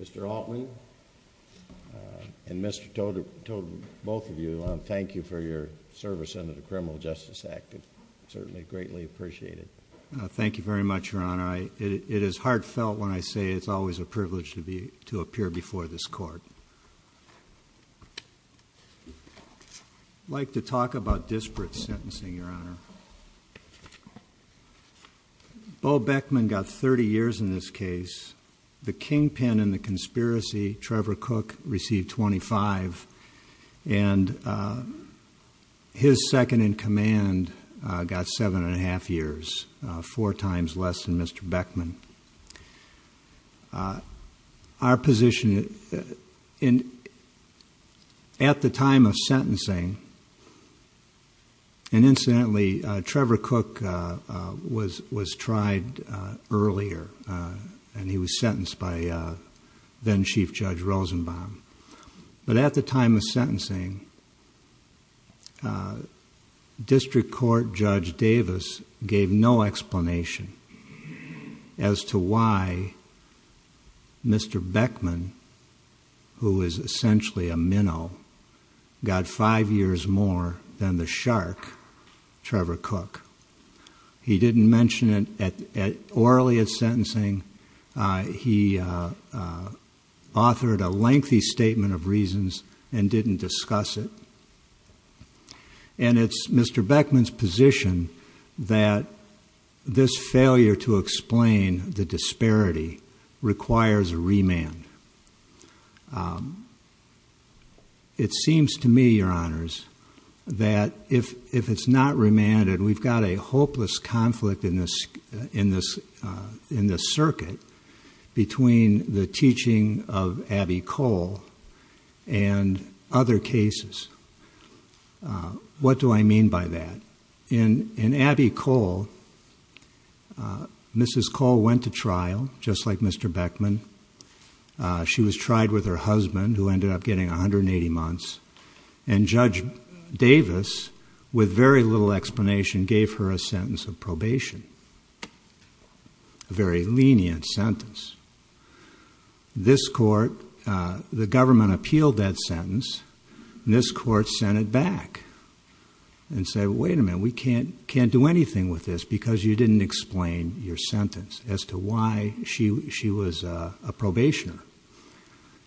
Mr. Altman and Mr. Todt, both of you, I thank you for your service under the Criminal Justice Act. I certainly greatly appreciate it. Thank you very much, Your Honor. It is heartfelt when I say it's always a privilege to appear before this Court. I'd like to talk about disparate sentencing, Your Honor. Bo Beckman got 30 years in this case. The kingpin in the conspiracy, Trevor Cook, received 25, and his second-in-command got seven and a half years, four times less than Mr. Beckman. Our position, at the time of sentencing, and incidentally Trevor Cook was tried earlier, and he was sentenced by then Chief Judge Rosenbaum, but at the time of sentencing, District Court Judge Davis gave no explanation as to why Mr. Beckman, who is essentially a minnow, got five years more than the shark, Trevor Cook. He didn't mention it orally at sentencing. He authored a lengthy statement of reasons and didn't discuss it, and it's Mr. Beckman's position that this failure to explain the disparity requires a trial. It seems to me, Your Honors, that if it's not remanded, we've got a hopeless conflict in this circuit between the teaching of Abbey Cole and other cases. What do I mean by that? In Abbey Cole, Mrs. Cole went to trial, just like Mr. Beckman. She was tried with her husband, who ended up getting a hundred and eighty months, and Judge Davis, with very little explanation, gave her a sentence of probation, a very lenient sentence. This court, the government appealed that sentence, and this court sent it back and said, wait a minute, we can't do anything with this because you didn't explain your sentence as to why she was a probationer.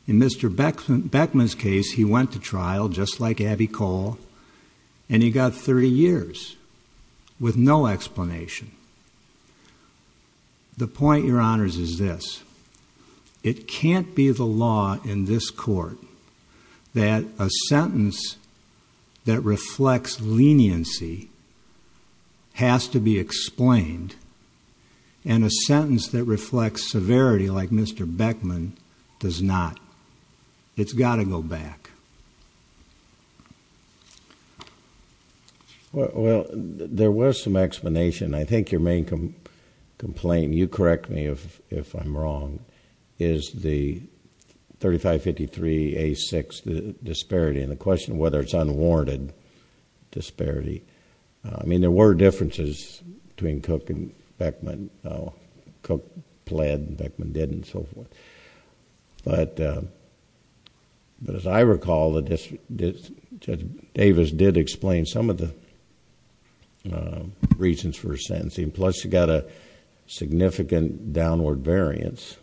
In Mr. Beckman's case, he went to trial, just like Abbey Cole, and he got thirty years with no explanation. The point, Your Honors, is this. It can't be the law in this court that a sentence that reflects leniency has to be explained, and a sentence that reflects severity, like Mr. Beckman, does not. It's got to go back. Well, there was some explanation. I think your main complaint, and you correct me if I'm wrong, is the 3553A6 disparity, and the... I mean, there were differences between Cook and Beckman. Cook pled, Beckman didn't, and so forth. As I recall, Judge Davis did explain some of the reasons for her sentencing, plus she got a significant downward variance.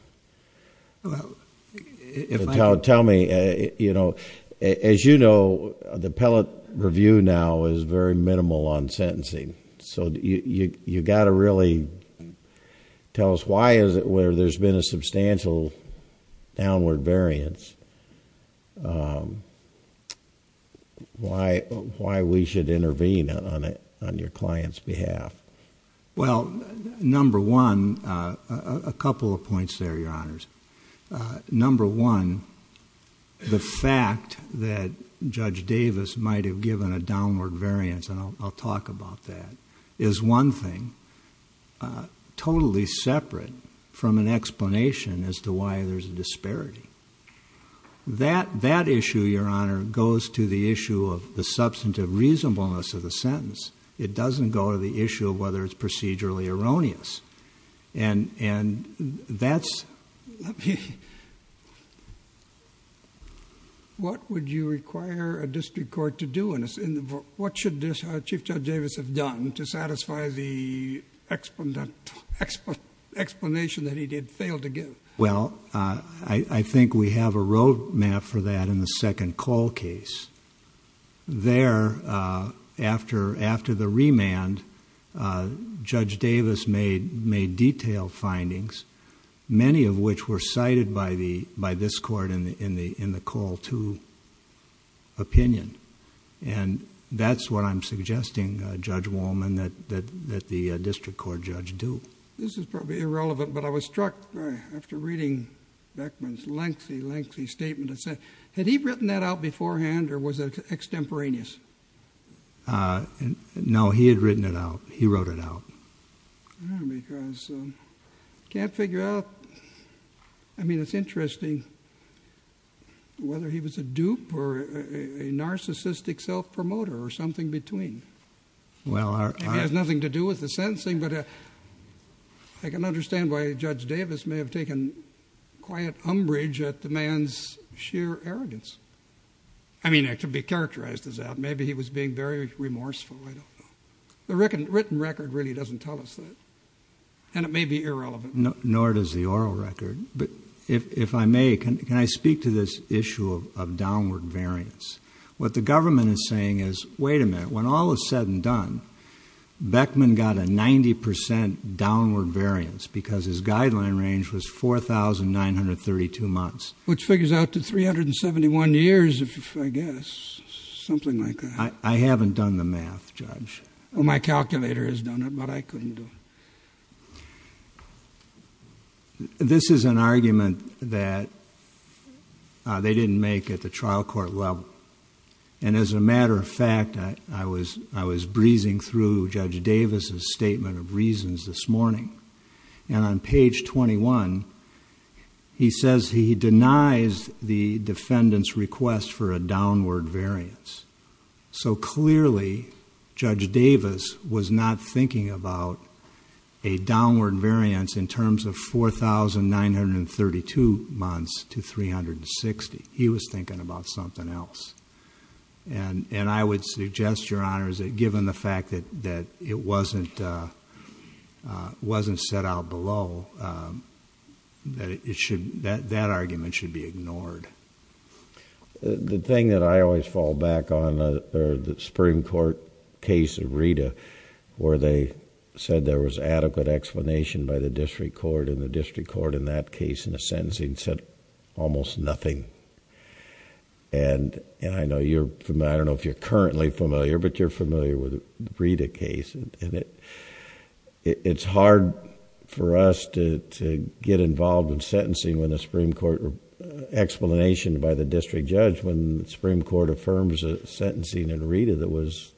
Tell me, as you know, the pellet review now is very minimal on sentencing, so you've got to really tell us why is it where there's been a substantial downward variance, why we should intervene on your client's behalf. Well, number one, a couple of points there, Your Honors. Number one, the fact that Judge Davis might have given a downward variance, and I'll talk about that, is one thing. Totally separate from an explanation as to why there's a disparity. That issue, Your Honor, goes to the issue of the substantive reasonableness of the sentence. It doesn't go to the issue of whether it's procedurally erroneous. What would you require a district court to do? What should Chief Judge Davis have done to satisfy the explanation that he did fail to give? Well, I think we have a road map for that in the second call case. There, after the remand, Judge Davis made detailed findings, many of which were cited by this court in the call to opinion. That's what I'm suggesting, Judge Wallman, that the district court judge do. This is probably irrelevant, but I was struck after reading Beckman's lengthy, lengthy statement. Had he written that out beforehand, or was it extemporaneous? No, he had written it out. He wrote it out. Because I can't figure out, I mean, it's interesting whether he was a dupe or a narcissistic self-promoter or something between. It has nothing to do with the sentencing, but I can understand why Judge Davis may have taken quiet umbrage at the man's sheer arrogance. I mean, to be characterized as that, maybe he was being very remorseful. I don't know. The written record really doesn't tell us that, and it may be irrelevant. Nor does the oral record, but if I may, can I speak to this issue of downward variance? What the government is saying is, wait a minute, when all is said and done, Beckman got a 90 percent downward variance because his guideline range was 4,932 months. Which figures out to 371 years, I guess, something like that. I haven't done the math, Judge. My calculator has done it, but I couldn't do it. This is an argument that they didn't make at the trial court level, and as a result, I'm reading through Judge Davis' statement of reasons this morning, and on page 21, he says he denies the defendant's request for a downward variance. So clearly, Judge Davis was not thinking about a downward variance in terms of 4,932 months to 360. He was thinking about something else. I would suggest, Your Honors, that given the fact that it wasn't set out below, that argument should be ignored. The thing that I always fall back on, or the Supreme Court case of Rita, where they said there was adequate explanation by the district court, and the district court, in that case, in the sentencing, said almost nothing. I don't know if you're currently familiar, but you're familiar with the Rita case, and it's hard for us to get involved in sentencing when the Supreme Court... explanation by the district judge when the Supreme Court affirms a sentencing in Rita that was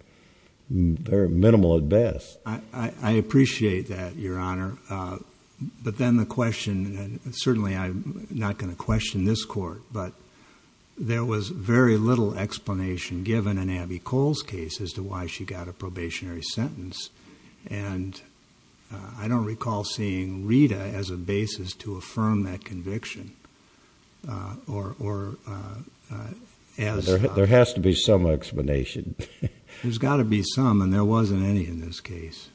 very minimal at best. I appreciate that, Your Honor, but then the question, and certainly I'm not going to question this court, but there was very little explanation given in Abby Cole's case as to why she got a probationary sentence, and I don't recall seeing Rita as a basis to affirm that conviction, or as... There has to be some explanation. There's got to be some, and there wasn't any in this case.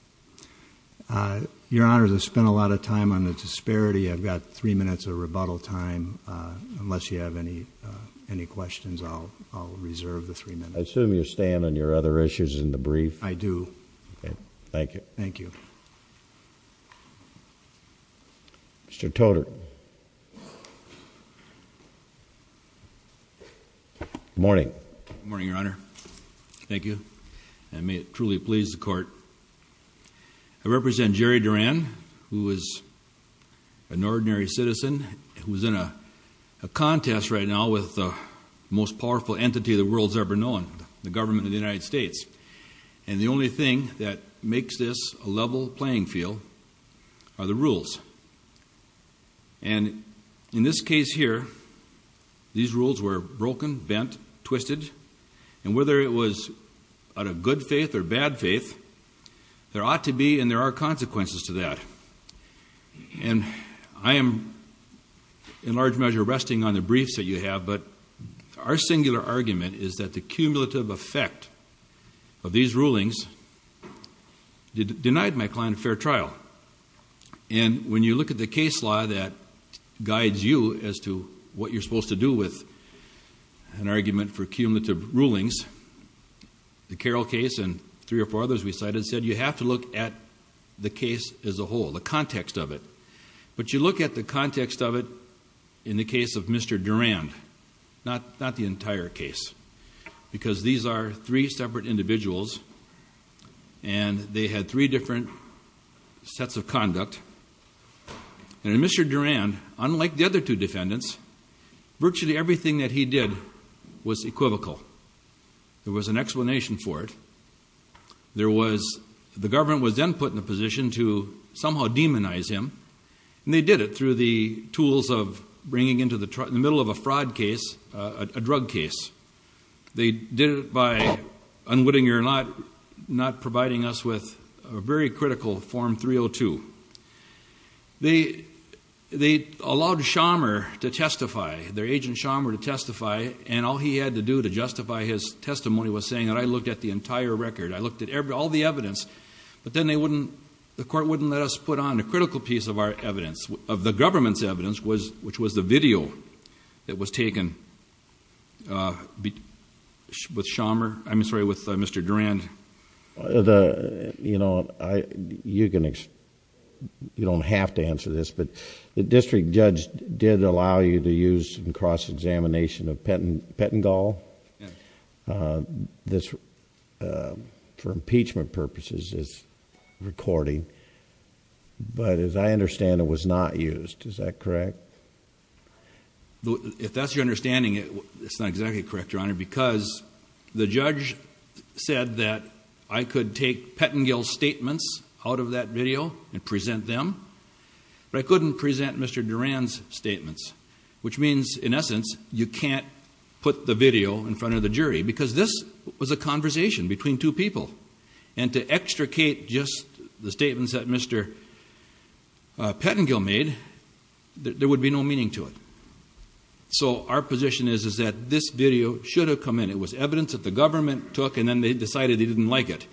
Your Honor, I've spent a lot of time on the disparity. I've got three minutes of rebuttal time. Unless you have any questions, I'll reserve the three minutes. I assume you stand on your other issues in the brief? I do. Okay. Thank you. Thank you. Mr. Toter. Good morning. Good morning, Your Honor. Thank you. And may it truly please the court, I represent Jerry Duran, who is an ordinary citizen who's in a contest right now with the most powerful entity the world's ever known, the government of the United States. And the only thing that makes this a level playing field are the rules. And in this case here, these rules were broken, bent, twisted, and whether it was out of good faith or bad faith, there ought to be and there are consequences to that. And I am, in large measure, resting on the briefs that you have, but our singular argument is that the cumulative effect of these rulings denied my client a fair trial. And when you look at the case law that guides you as to what you're supposed to do with an argument for cumulative rulings, the Carroll case and three or four others we cited, said you have to look at the case as a whole, the context of it. But you look at the context of it in the case of Mr. Durand, not the entire case, because these are three separate individuals, and they had three different sets of conduct. And in Mr. Durand, unlike the other two defendants, virtually everything that he did was equivocal. There was an explanation for it. There was, the government was then put in a position to somehow demonize him, and they did it through the tools of bringing into the middle of a fraud case, a drug case. They did it by unwittingly or not, not providing us with a very critical Form 302. They allowed Schammer to testify, their agent Schammer to testify, and all he had to do to justify his testimony was saying that I looked at the entire record, I looked at all the evidence, but then they wouldn't, the court wouldn't let us put on a critical piece of our evidence, of the government's evidence, which was the video that was taken with Mr. Durand. You don't have to answer this, but the district judge did allow you to use in cross-examination of Pettengill for impeachment purposes, this recording, but as I understand it, it was not used. Is that correct? If that's your understanding, it's not exactly correct, Your Honor, because the judge said that I could take Pettengill's statements out of that video and present them, but I can't put the video in front of the jury, because this was a conversation between two people, and to extricate just the statements that Mr. Pettengill made, there would be no meaning to it. So our position is that this video should have come in, it was evidence that the government took and then they decided they didn't like it,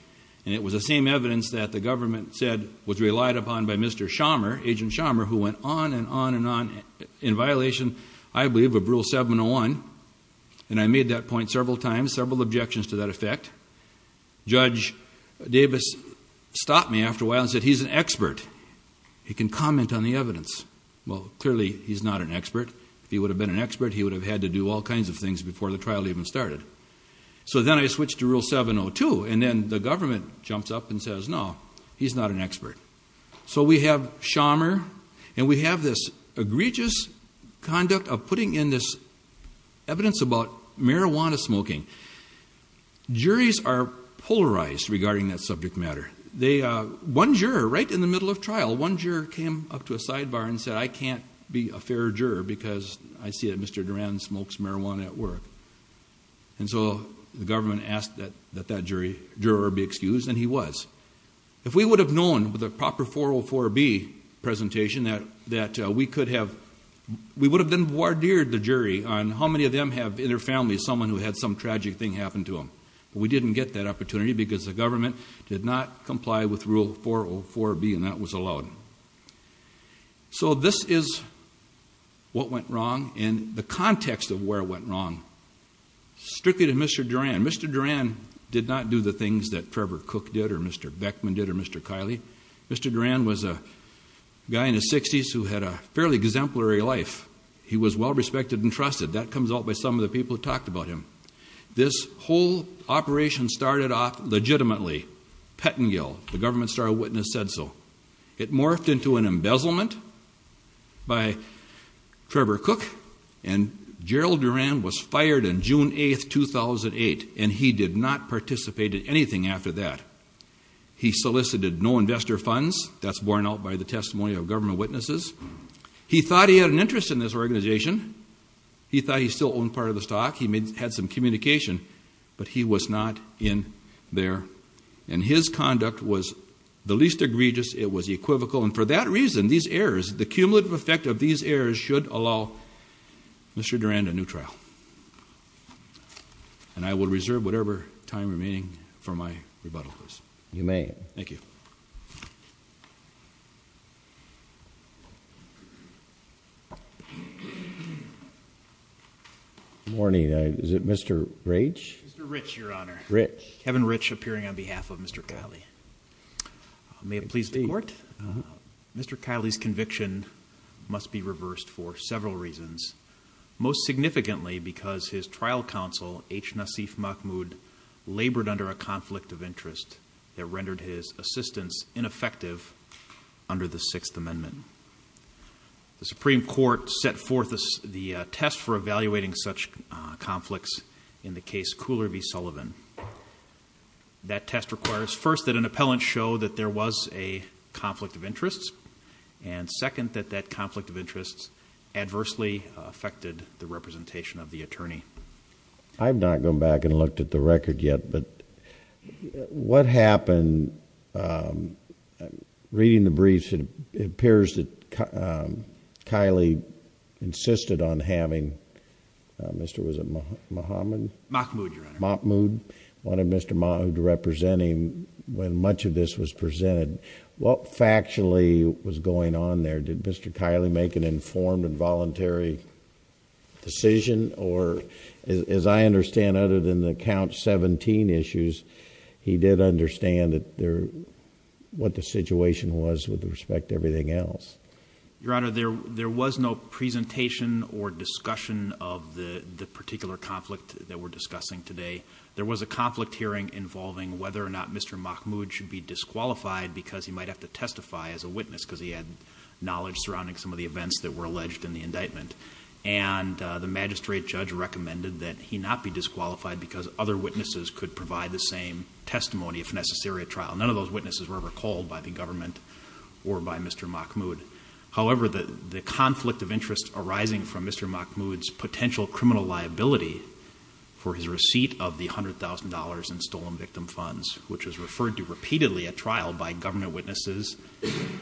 and it was the same evidence that the government said was relied upon by Mr. Schammer, Agent Schammer, who went on and on and on in violation, I believe, of Rule 701, and I made that point several times, several objections to that effect. Judge Davis stopped me after a while and said, he's an expert, he can comment on the evidence. Well, clearly, he's not an expert. If he would have been an expert, he would have had to do all kinds of things before the trial even started. So then I switched to Rule 702, and then the government jumps up and says, no, he's not an expert. So we have Schammer, and we have this egregious conduct of putting in this evidence about marijuana smoking. Juries are polarized regarding that subject matter. One juror, right in the middle of trial, one juror came up to a sidebar and said, I can't be a fair juror because I see that Mr. Duran smokes marijuana at work. And so the government asked that that juror be excused, and he was. If we would have known with a proper 404B presentation that we could have, we would have then wardered the jury on how many of them have in their family someone who had some tragic thing happen to them. We didn't get that opportunity because the government did not comply with Rule 404B, and that was allowed. So this is what went wrong, and the context of where it went wrong, strictly to Mr. Duran. Mr. Duran did not do the things that Trevor Cook did, or Mr. Beckman did, or Mr. Kiley. Mr. Duran was a guy in his 60s who had a fairly exemplary life. He was well-respected and trusted. That comes out by some of the people who talked about him. This whole operation started off legitimately, Pettengill, the government star witness said so. It morphed into an embezzlement by Trevor Cook, and Gerald Duran was fired on June 8th, 2008, and he did not participate in anything after that. He solicited no investor funds. That's borne out by the testimony of government witnesses. He thought he had an interest in this organization. He thought he still owned part of the stock. He had some communication, but he was not in there. His conduct was the least egregious. It was equivocal, and for that reason, these errors, the cumulative effect of these errors should allow Mr. Duran a new trial. I will reserve whatever time remaining for my rebuttal, please. You may. Thank you. Good morning. Is it Mr. Ritch? Mr. Ritch, Your Honor. Ritch. Kevin Ritch, appearing on behalf of Mr. Kiley. May it please the Court? Mr. Kiley's conviction must be reversed for several reasons, most significantly because his trial counsel, H. Nasif Mahmoud, labored under a conflict of interest that rendered his assistance ineffective under the Sixth Amendment. The Supreme Court set forth the test for evaluating such conflicts in the case Cooler v. Sullivan. That test requires, first, that an appellant show that there was a conflict of interest, and second, that that conflict of interest adversely affected the representation of the attorney. I have not gone back and looked at the record yet, but what happened, reading the briefs, it appears that Kiley insisted on having... Mr.... was it Mahmoud? Mahmoud, Your Honor. Mahmoud. Wanted Mr. Mahmoud to represent him when much of this was presented. What factually was going on there? Did Mr. Kiley make an informed and voluntary decision, or, as I understand, other than the count seventeen issues, he did understand what the situation was with respect to everything else? Your Honor, there was no presentation or discussion of the particular conflict that we're discussing today. There was a conflict hearing involving whether or not Mr. Mahmoud should be disqualified because he might have to testify as a witness, because he had knowledge surrounding some of the events that were alleged in the indictment, and the magistrate judge recommended that he not be disqualified because other witnesses could provide the same testimony if necessary at trial. None of those witnesses were ever called by the government or by Mr. Mahmoud. However, the conflict of interest arising from Mr. Mahmoud's potential criminal liability for his receipt of the $100,000 in stolen victim funds, which was referred to repeatedly at trial by government witnesses,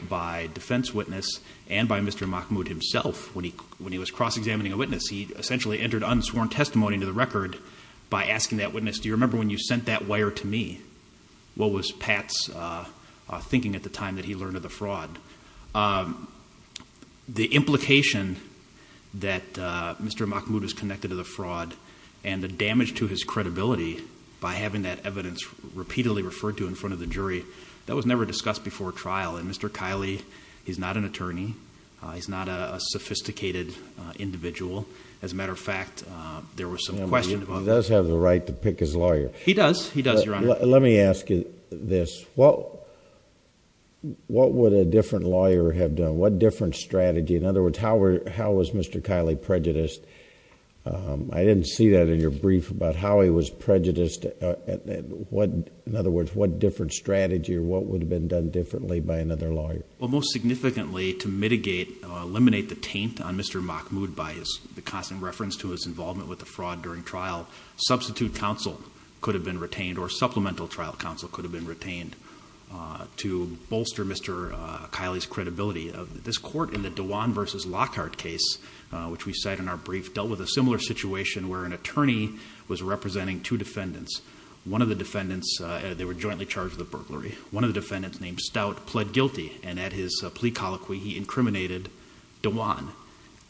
by defense witness, and by Mr. Mahmoud himself when he was cross-examining a witness. He essentially entered unsworn testimony into the record by asking that witness, do you remember when you sent that wire to me? What was Pat's thinking at the time that he learned of the fraud? The implication that Mr. Mahmoud is connected to the fraud and the damage to his credibility by having that evidence repeatedly referred to in front of the jury, that was never discussed before trial. And Mr. Kiley, he's not an attorney, he's not a sophisticated individual. As a matter of fact, there was some question... He does have the right to pick his lawyer. He does. He does, Your Honor. Let me ask you this. What would a different lawyer have done? What different strategy? In other words, how was Mr. Kiley prejudiced? I didn't see that in your brief about how he was prejudiced, in other words, what different strategy or what would have been done differently by another lawyer? Well, most significantly, to mitigate, eliminate the taint on Mr. Mahmoud by the constant reference to his involvement with the fraud during trial, substitute counsel could have been retained or supplemental trial counsel could have been retained to bolster Mr. Kiley's credibility. This court in the Dewan v. Lockhart case, which we cite in our brief, dealt with a similar situation where an attorney was representing two defendants. One of the defendants, they were jointly charged with a burglary. One of the defendants named Stout pled guilty and at his plea colloquy he incriminated Dewan.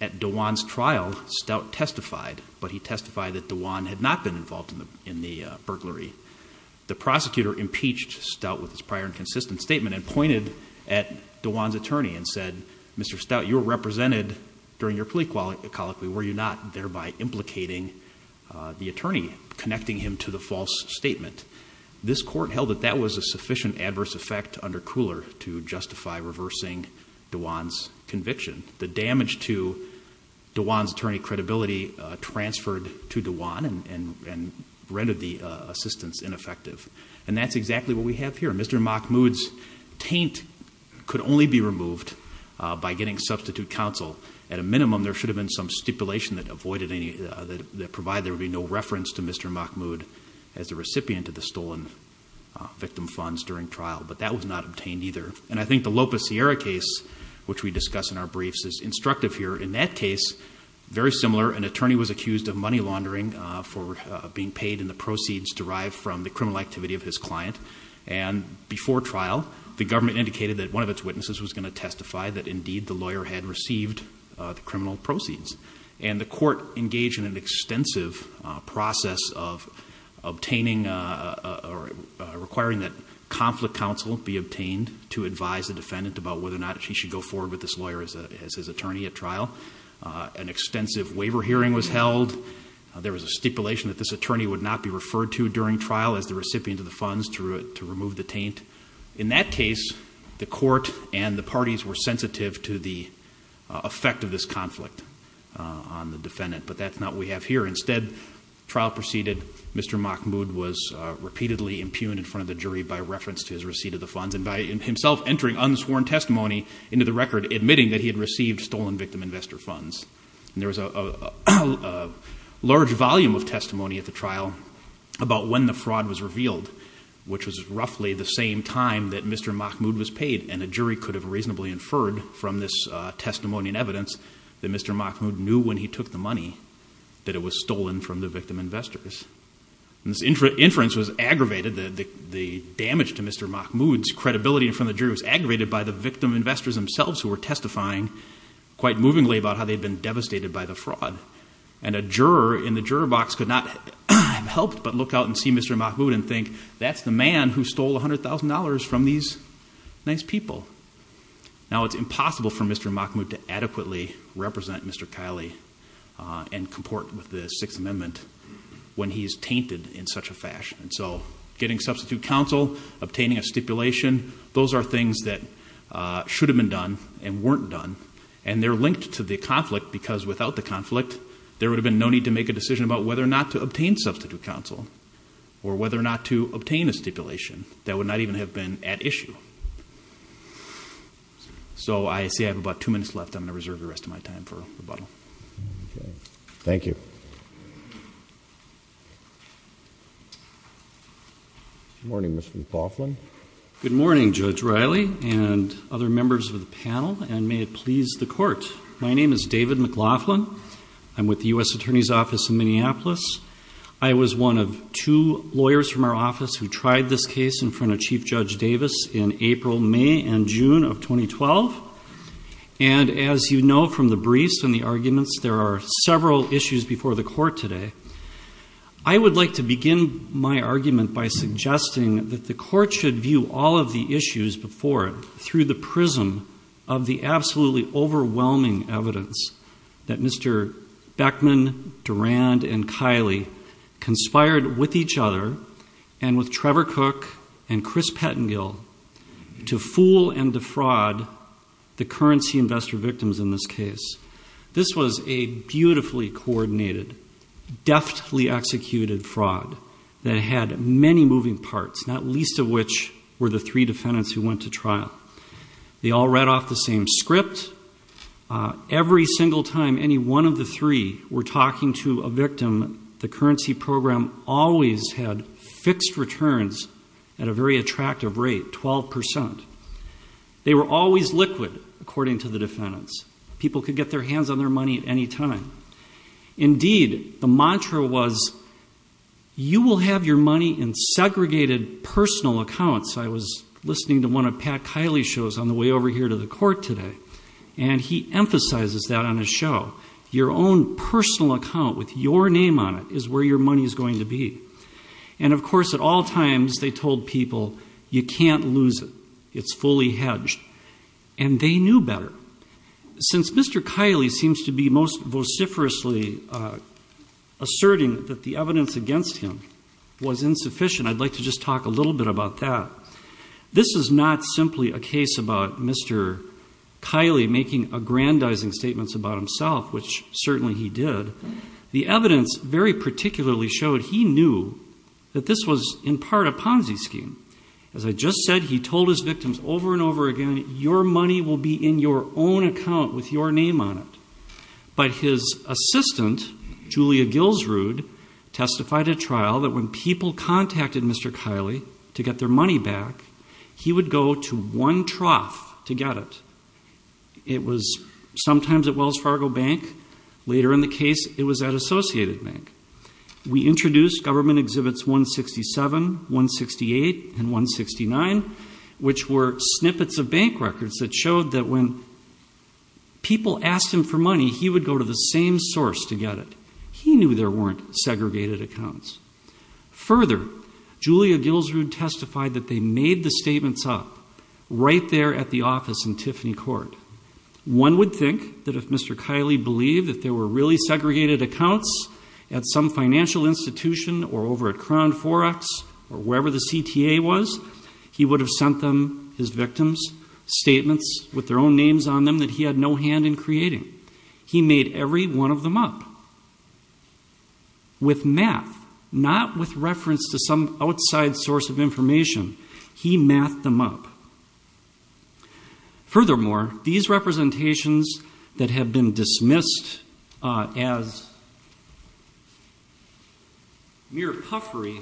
At Dewan's trial, Stout testified, but he testified that Dewan had not been involved in the burglary. The prosecutor impeached Stout with his prior inconsistent statement and pointed at Dewan's attorney and said, Mr. Stout, you were represented during your plea colloquy, were you not thereby implicating the attorney, connecting him to the false statement? This court held that that was a sufficient adverse effect under Cooler to justify reversing Dewan's conviction. The damage to Dewan's attorney credibility transferred to Dewan and rendered the assistance ineffective. And that's exactly what we have here. Mr. Mahmoud's taint could only be removed by getting substitute counsel. At a minimum, there should have been some stipulation that provided there would be no reference to Mr. Mahmoud as the recipient of the stolen victim funds during trial, but that was not obtained either. And I think the Lopez Sierra case, which we discuss in our briefs, is instructive here. In that case, very similar, an attorney was accused of money laundering for being paid in the proceeds derived from the criminal activity of his client. And before trial, the government indicated that one of its witnesses was going to testify that indeed the lawyer had received the criminal proceeds. And the court engaged in an extensive process of obtaining or requiring that conflict counsel be obtained to advise the defendant about whether or not he should go forward with this lawyer as his attorney at trial. An extensive waiver hearing was held. There was a stipulation that this attorney would not be referred to during trial as the recipient of the funds to remove the taint. In that case, the court and the parties were sensitive to the effect of this conflict on the defendant. But that's not what we have here. Instead, trial proceeded, Mr. Mahmoud was repeatedly impugned in front of the jury by reference to his receipt of the funds and by himself entering unsworn testimony into the record admitting that he had received stolen victim investor funds. And there was a large volume of testimony at the trial about when the fraud was revealed, which was roughly the same time that Mr. Mahmoud was paid, and a jury could have reasonably inferred from this testimony and evidence that Mr. Mahmoud knew when he took the money that it was stolen from the victim investors. This inference was aggravated, the damage to Mr. Mahmoud's credibility in front of the jury was aggravated by the victim investors themselves who were testifying quite movingly about how they had been devastated by the fraud. And a juror in the juror box could not help but look out and see Mr. Mahmoud and think that's the man who stole $100,000 from these nice people. Now it's impossible for Mr. Mahmoud to adequately represent Mr. Kiley and comport with the Sixth Amendment when he's tainted in such a fashion. And so getting substitute counsel, obtaining a stipulation, those are things that should have been done and weren't done. And they're linked to the conflict because without the conflict, there would have been no need to make a decision about whether or not to obtain substitute counsel or whether or not to obtain a stipulation. That would not even have been at issue. So I see I have about two minutes left, I'm going to reserve the rest of my time for rebuttal. Thank you. Good morning, Mr. McLaughlin. Good morning, Judge Riley and other members of the panel, and may it please the Court. My name is David McLaughlin. I'm with the U.S. Attorney's Office in Minneapolis. I was one of two lawyers from our office who tried this case in front of Chief Judge Davis in April, May, and June of 2012. And as you know from the briefs and the arguments, there are several issues before the Court today. I would like to begin my argument by suggesting that the Court should view all of the issues before it through the prism of the absolutely overwhelming evidence that Mr. Beckman, Durand, and Kiley conspired with each other and with Trevor Cook and Chris Pettengill to fool and defraud the currency investor victims in this case. This was a beautifully coordinated, deftly executed fraud that had many moving parts, not least of which were the three defendants who went to trial. They all read off the same script. Every single time any one of the three were talking to a victim, the currency program always had fixed returns at a very attractive rate, 12%. They were always liquid, according to the defendants. People could get their hands on their money at any time. Indeed, the mantra was, you will have your money in segregated personal accounts. I was listening to one of Pat Kiley's shows on the way over here to the Court today, and he emphasizes that on his show. Your own personal account with your name on it is where your money is going to be. And of course, at all times, they told people, you can't lose it. It's fully hedged. And they knew better. Since Mr. Kiley seems to be most vociferously asserting that the evidence against him was insufficient, I'd like to just talk a little bit about that. This is not simply a case about Mr. Kiley making aggrandizing statements about himself, which certainly he did. The evidence very particularly showed he knew that this was in part a Ponzi scheme. As I just said, he told his victims over and over again, your money will be in your own account with your name on it. But his assistant, Julia Gilsrud, testified at trial that when people contacted Mr. Kiley to get their money back, he would go to one trough to get it. It was sometimes at Wells Fargo Bank. Later in the case, it was at Associated Bank. We introduced government exhibits 167, 168, and 169, which were snippets of bank records that showed that when people asked him for money, he would go to the same source to get it. He knew there weren't segregated accounts. Further, Julia Gilsrud testified that they made the statements up right there at the office in Tiffany Court. One would think that if Mr. Kiley believed that there were really segregated accounts at some financial institution or over at Crown Forex or wherever the CTA was, he would have sent them his victims' statements with their own names on them that he had no hand in creating. He made every one of them up with math, not with reference to some outside source of information. He mathed them up. Furthermore, these representations that have been dismissed as mere puffery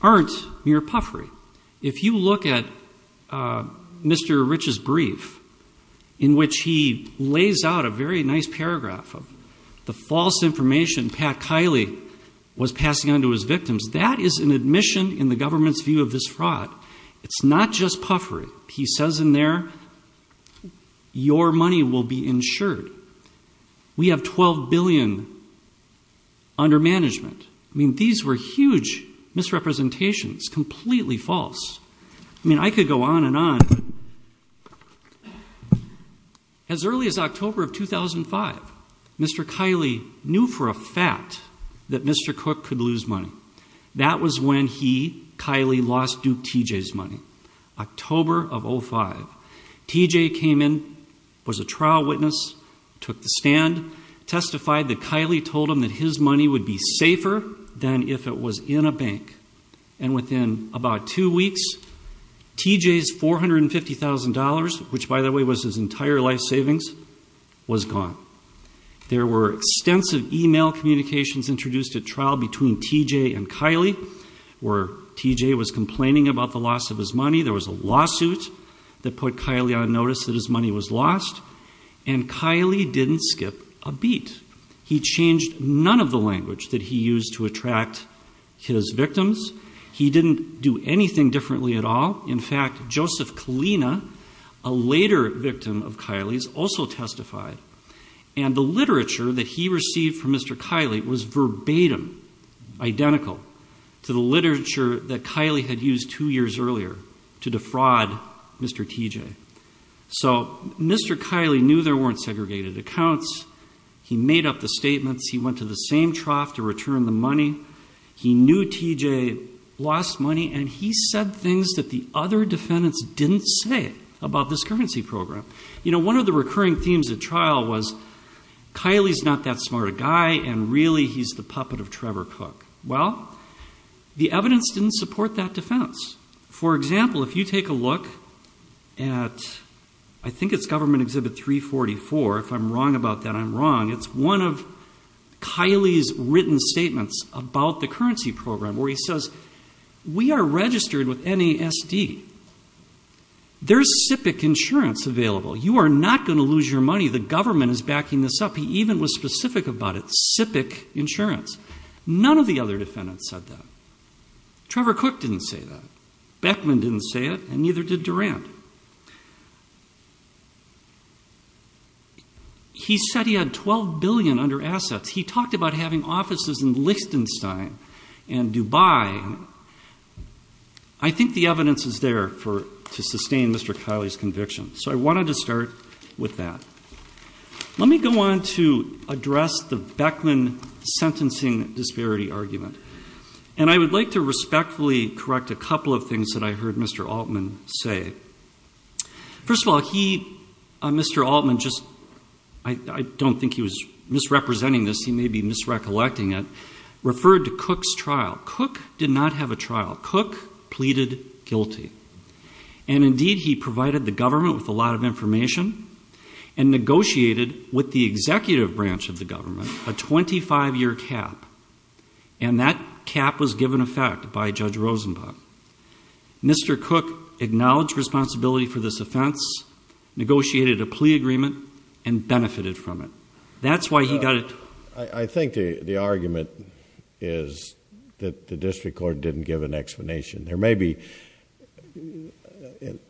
aren't mere puffery. If you look at Mr. Rich's brief, in which he lays out a very nice paragraph of the false information Pat Kiley was passing on to his victims, that is an admission in the government's view of this fraud. It's not just puffery. He says in there, your money will be insured. We have $12 billion under management. I mean, these were huge misrepresentations, completely false. I mean, I could go on and on. As early as October of 2005, Mr. Kiley knew for a fact that Mr. Cook could lose money. That was when he, Kiley, lost Duke T.J.'s money. October of 05, T.J. came in, was a trial witness, took the stand, testified that Kiley told him that his money would be safer than if it was in a bank. And within about two weeks, T.J.'s $450,000, which by the way was his entire life savings, was gone. There were extensive email communications introduced at trial between T.J. and Kiley, where T.J. was complaining about the loss of his money. There was a lawsuit that put Kiley on notice that his money was lost. And Kiley didn't skip a beat. He changed none of the language that he used to attract his victims. He didn't do anything differently at all. In fact, Joseph Kalina, a later victim of Kiley's, also testified. And the literature that he received from Mr. Kiley was verbatim, identical to the literature that Kiley had used two years earlier to defraud Mr. T.J. So Mr. Kiley knew there weren't segregated accounts. He made up the statements. He knew T.J. lost money. And he said things that the other defendants didn't say about this currency program. You know, one of the recurring themes at trial was, Kiley's not that smart a guy, and really he's the puppet of Trevor Cook. Well, the evidence didn't support that defense. For example, if you take a look at, I think it's government exhibit 344. If I'm wrong about that, I'm wrong. It's one of Kiley's written statements about the currency program, where he says, we are registered with NASD. There's SIPC insurance available. You are not going to lose your money. The government is backing this up. He even was specific about it, SIPC insurance. None of the other defendants said that. Trevor Cook didn't say that. Beckman didn't say it, and neither did Durand. He said he had $12 billion under assets. He talked about having offices in Liechtenstein and Dubai. I think the evidence is there to sustain Mr. Kiley's conviction. So I wanted to start with that. Let me go on to address the Beckman sentencing disparity argument. And I would like to respectfully correct a couple of things that I heard Mr. Altman say. First of all, he, Mr. Altman just, I don't think he was misrepresenting this. He may be misrecollecting it. Referred to Cook's trial. Cook did not have a trial. Cook pleaded guilty. And indeed, he provided the government with a lot of information and negotiated with the executive branch of the government a 25 year cap. And that cap was given effect by Judge Rosenbach. Mr. Cook acknowledged responsibility for this offense, negotiated a plea agreement, and benefited from it. That's why he got it. I think the argument is that the district court didn't give an explanation. There may be,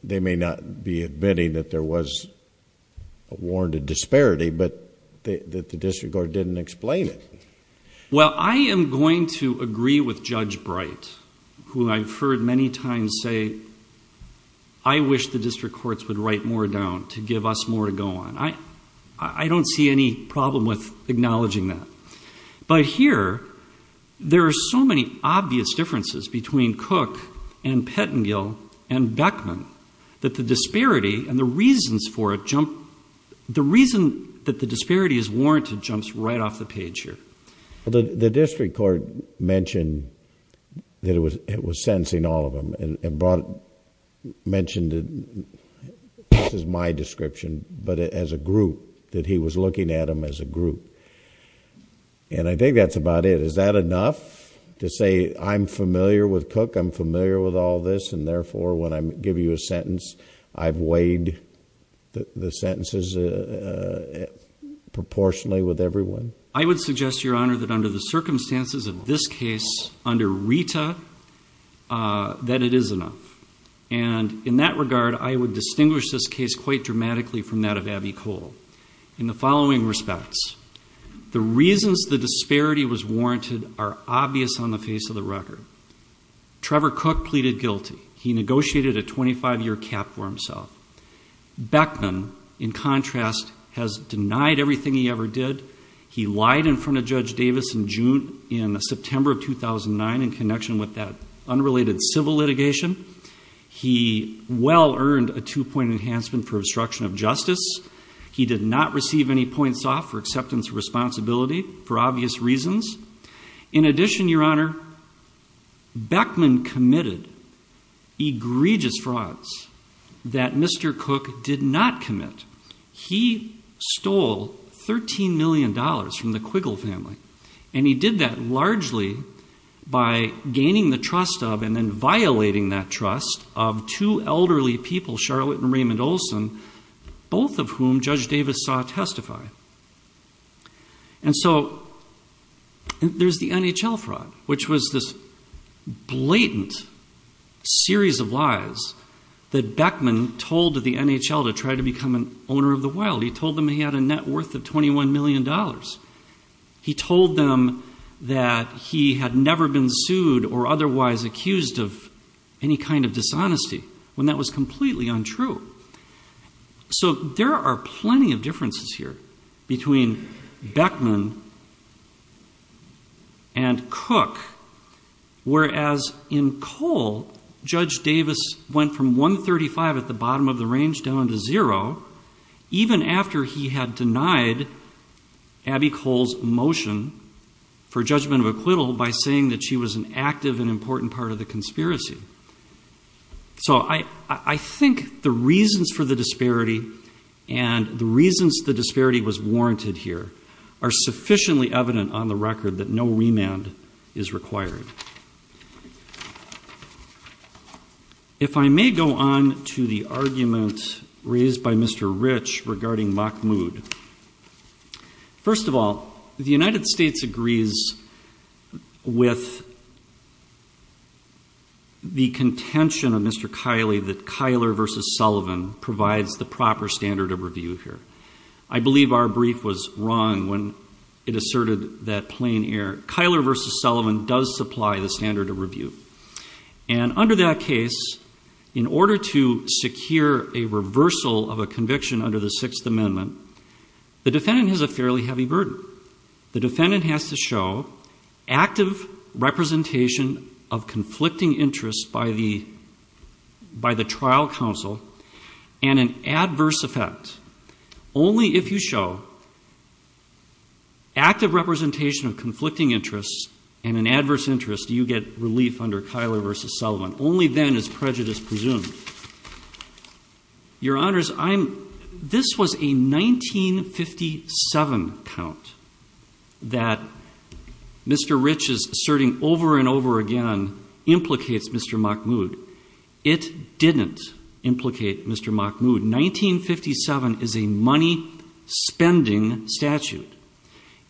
they may not be admitting that there was a warranted disparity, but that the district court didn't explain it. Well, I am going to agree with Judge Bright, who I've heard many times say, I wish the district courts would write more down to give us more to go on. I don't see any problem with acknowledging that. But here, there are so many obvious differences between Cook and Pettengill and Beckman that the disparity and the reasons for it jump. It's right off the page here. The district court mentioned that it was sentencing all of them and brought, mentioned it, this is my description, but as a group, that he was looking at them as a group. And I think that's about it. Is that enough to say I'm familiar with Cook, I'm familiar with all this, and therefore, when I give you a sentence, I've weighed the sentences proportionally with everyone? I would suggest, Your Honor, that under the circumstances of this case, under Rita, that it is enough. And in that regard, I would distinguish this case quite dramatically from that of Abby Cole. In the following respects, the reasons the disparity was warranted are obvious on the face of the record. Trevor Cook pleaded guilty. He negotiated a 25 year cap for himself. Beckman, in contrast, has denied everything he ever did. He lied in front of Judge Davis in June, in September of 2009 in connection with that unrelated civil litigation. He well earned a two point enhancement for obstruction of justice. He did not receive any points off for acceptance of responsibility for obvious reasons. In addition, Your Honor, Beckman committed egregious frauds that Mr. Cook did not commit. He stole $13 million from the Quiggle family. And he did that largely by gaining the trust of, and then violating that trust, of two elderly people, Charlotte and Raymond Olson, both of whom Judge Davis saw testify. And so there's the NHL fraud, which was this blatant series of lies that Beckman told the NHL to try to become an owner of the wild. He told them he had a net worth of $21 million. He told them that he had never been sued or otherwise accused of any kind of dishonesty, when that was completely untrue. So there are plenty of differences here between Beckman and Cook. Whereas in Cole, Judge Davis went from 135 at the bottom of the range down to zero. Even after he had denied Abby Cole's motion for judgment of acquittal by saying that she was an active and important part of the conspiracy. So I think the reasons for the disparity and the reasons the disparity was warranted here are sufficiently evident on the record that no remand is required. If I may go on to the argument raised by Mr. Rich regarding Mock Mood. First of all, the United States agrees with the contention of Mr. Kiley that Kyler versus Sullivan provides the proper standard of review here. I believe our brief was wrong when it asserted that plain air. Kyler versus Sullivan does supply the standard of review. And under that case, in order to secure a reversal of a conviction under the Sixth Amendment, the defendant has a fairly heavy burden. The defendant has to show active representation of conflicting interests by the trial counsel and an adverse effect. Only if you show active representation of conflicting interests and an adverse interest do you get relief under Kyler versus Sullivan. Only then is prejudice presumed. Your Honors, this was a 1957 count that Mr. Rich is asserting over and over again implicates Mr. Mock Mood. It didn't implicate Mr. Mock Mood. 1957 is a money spending statute.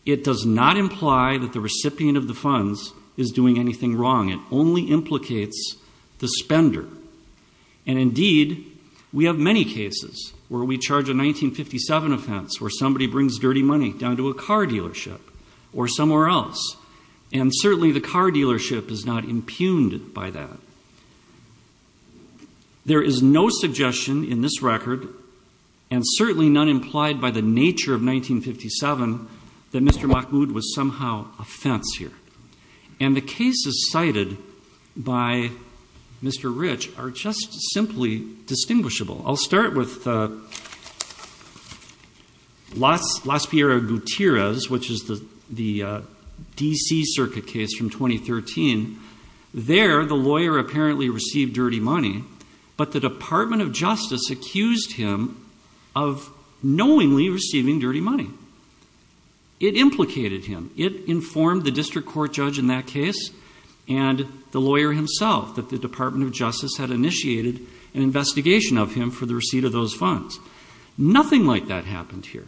It does not imply that the recipient of the funds is doing anything wrong. It only implicates the spender. And indeed, we have many cases where we charge a 1957 offense, where somebody brings dirty money down to a car dealership or somewhere else. And certainly the car dealership is not impugned by that. There is no suggestion in this record, and certainly none implied by the nature of 1957, that Mr. Mock Mood was somehow a fence here. And the cases cited by Mr. Rich are just simply distinguishable. I'll start with Las Piera Gutierrez, which is the DC circuit case from 2013. There, the lawyer apparently received dirty money. But the Department of Justice accused him of knowingly receiving dirty money. It implicated him. It informed the district court judge in that case and the lawyer himself, that the Department of Justice had initiated an investigation of him for the receipt of those funds. Nothing like that happened here.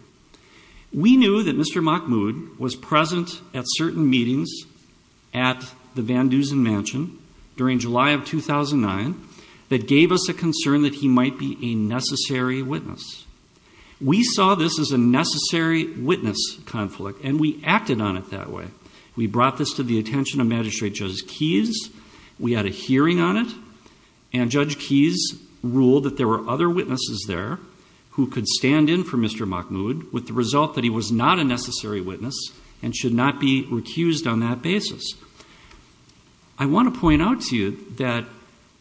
We knew that Mr. Mock Mood was present at certain meetings at the Van Dusen mansion during July of 2009 that gave us a concern that he might be a necessary witness. We saw this as a necessary witness conflict, and we acted on it that way. We brought this to the attention of Magistrate Justice Keyes. We had a hearing on it, and Judge Keyes ruled that there were other witnesses there who could stand in for Mr. Mock Mood with the result that he was not a necessary witness and should not be recused on that basis. I want to point out to you that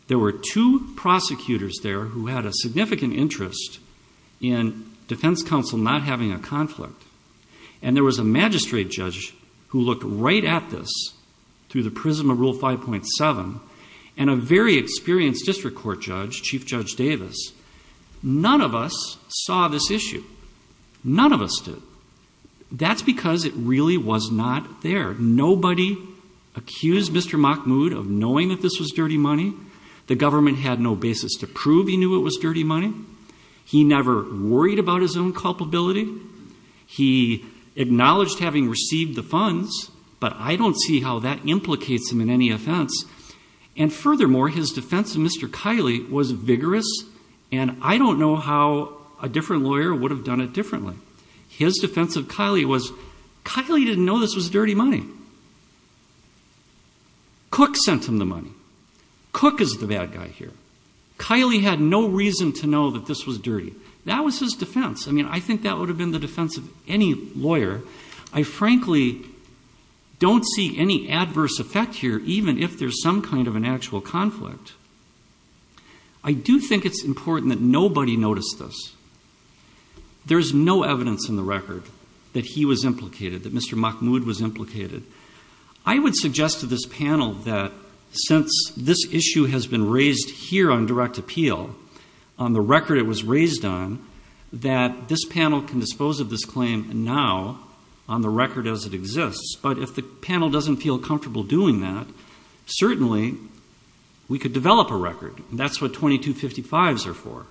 there were two prosecutors there who had a significant interest in defense counsel not having a conflict, and there was a magistrate judge who looked right at this through the prism of Rule 5.7, and a very experienced district court judge, Chief Judge Davis. None of us saw this issue. None of us did. That's because it really was not there. Nobody accused Mr. Mock Mood of knowing that this was dirty money. The government had no basis to prove he knew it was dirty money. He never worried about his own culpability. He acknowledged having received the funds, but I don't see how that implicates him in any offense. And furthermore, his defense of Mr. Kiley was vigorous, and I don't know how a different lawyer would have done it differently. His defense of Kiley was, Kiley didn't know this was dirty money. Cook sent him the money. Cook is the bad guy here. Kiley had no reason to know that this was dirty. That was his defense. I mean, I think that would have been the defense of any lawyer. I frankly don't see any adverse effect here, even if there's some kind of an actual conflict. I do think it's important that nobody noticed this. There's no evidence in the record that he was implicated, that Mr. Mock Mood was implicated. I would suggest to this panel that since this issue has been raised here on direct appeal, on the record it was raised on, that this panel can dispose of this claim now on the record as it exists. But if the panel doesn't feel comfortable doing that, certainly we could develop a record. That's what 2255s are for.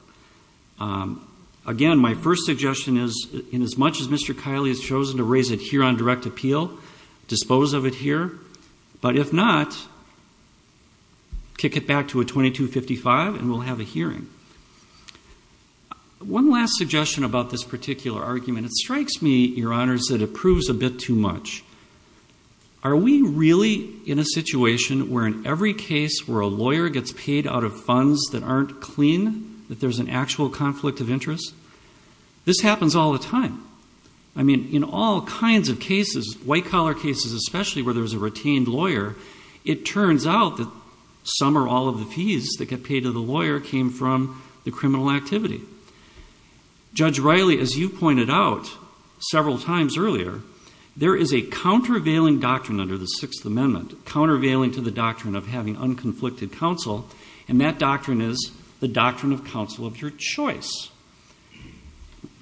Again, my first suggestion is, in as much as Mr. Kiley has chosen to raise it here on direct appeal, dispose of it here. But if not, kick it back to a 2255 and we'll have a hearing. One last suggestion about this particular argument. It strikes me, your honors, that it proves a bit too much. Are we really in a situation where in every case where a lawyer gets paid out of funds that aren't clean, that there's an actual conflict of interest? This happens all the time. I mean, in all kinds of cases, white collar cases especially where there's a retained lawyer, it turns out that some or all of the fees that get paid to the lawyer came from the criminal activity. Judge Riley, as you pointed out several times earlier, there is a countervailing doctrine under the Sixth Amendment, countervailing to the doctrine of having unconflicted counsel, and that doctrine is the doctrine of counsel of your choice.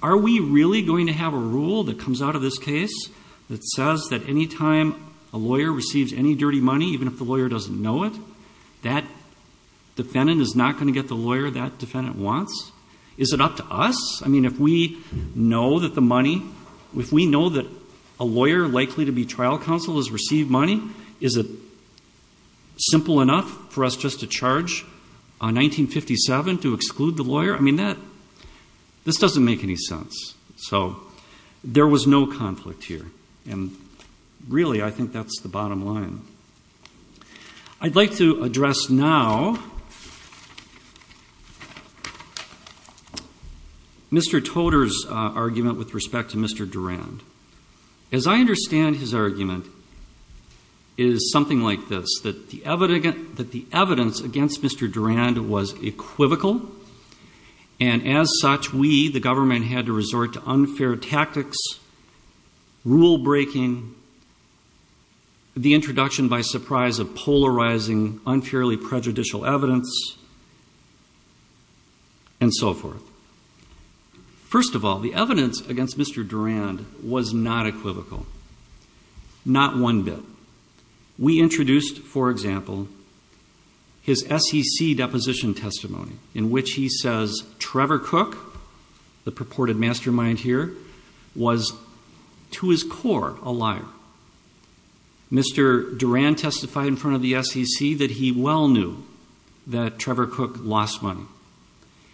Are we really going to have a rule that comes out of this case that says that any time a lawyer receives any dirty money, even if the lawyer doesn't know it, that defendant is not going to get the lawyer that defendant wants? Is it up to us? I mean, if we know that the money, if we know that a lawyer likely to be trial counsel has received money, is it simple enough for us just to charge a 1957 to exclude the lawyer? I mean, this doesn't make any sense. So, there was no conflict here. And really, I think that's the bottom line. I'd like to address now Mr. Toder's argument with respect to Mr. Durand. As I understand his argument, it is something like this, that the evidence against Mr. Durand was equivocal, and as such, we, the government, had to resort to unfair tactics, rule breaking, the introduction by surprise of polarizing unfairly prejudicial evidence, and so forth. First of all, the evidence against Mr. Durand was not equivocal, not one bit. We introduced, for example, his SEC deposition testimony, in which he says Trevor Cook, the purported mastermind here, was to his core a liar. Mr. Durand testified in front of the SEC that he well knew that Trevor Cook lost money.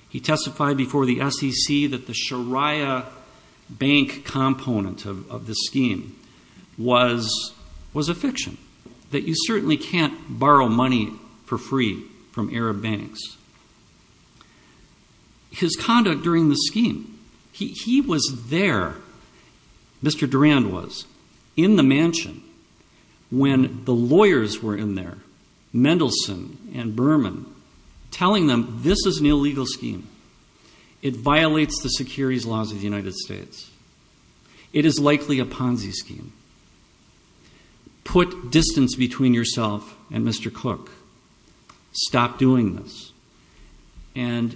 He testified before the SEC that the Shariah Bank component of this scheme was a fiction, that you certainly can't borrow money for free from Arab banks. His conduct during the scheme, he was there, Mr. Durand was, in the mansion when the lawyers were in there, Mendelsohn and Berman, telling them this is an illegal scheme. It violates the securities laws of the United States. It is likely a Ponzi scheme. Put distance between yourself and Mr. Cook. Stop doing this. And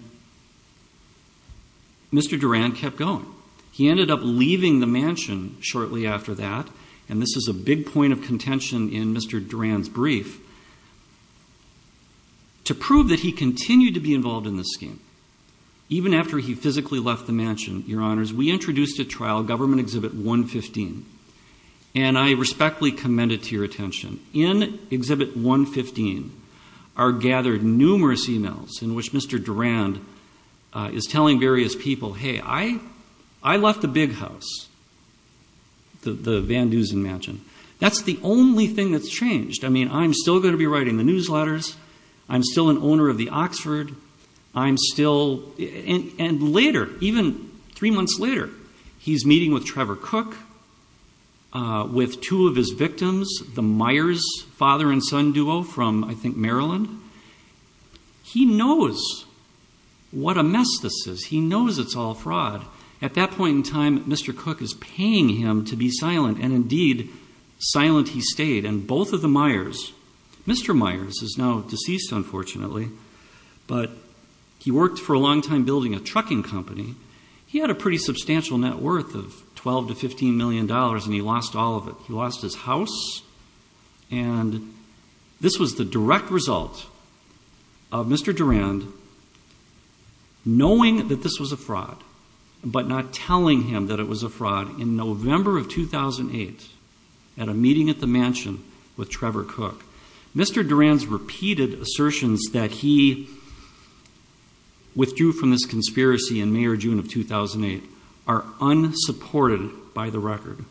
Mr. Durand kept going. He ended up leaving the mansion shortly after that, and this is a big point of contention in Mr. Durand's brief, to prove that he continued to be involved in this scheme. Even after he physically left the mansion, Your Honors, we introduced at trial Government Exhibit 115, and I respectfully commend it to your attention. In Exhibit 115 are gathered numerous emails in which Mr. Durand is telling various people, hey, I left the big house, the Van Dusen mansion. That's the only thing that's changed. I mean, I'm still going to be writing the newsletters. I'm still an owner of the Oxford. I'm still, and later, even three months later, he's meeting with Trevor Cook, with two of his victims, the Myers father and son duo from, I think, Maryland. He knows what a mess this is. He knows it's all fraud. At that point in time, Mr. Cook is paying him to be silent, and indeed, silent he stayed. And both of the Myers, Mr. Myers is now deceased, unfortunately, but he worked for a long time building a trucking company. He had a pretty substantial net worth of $12 to $15 million, and he lost all of it. He lost his house, and this was the direct result of Mr. Durand knowing that this was a fraud, but not telling him that it was a fraud in November of 2008 at a meeting at the mansion with Trevor Cook. Mr. Durand's repeated assertions that he withdrew from this conspiracy in May or June of 2008 are unsupported by the record.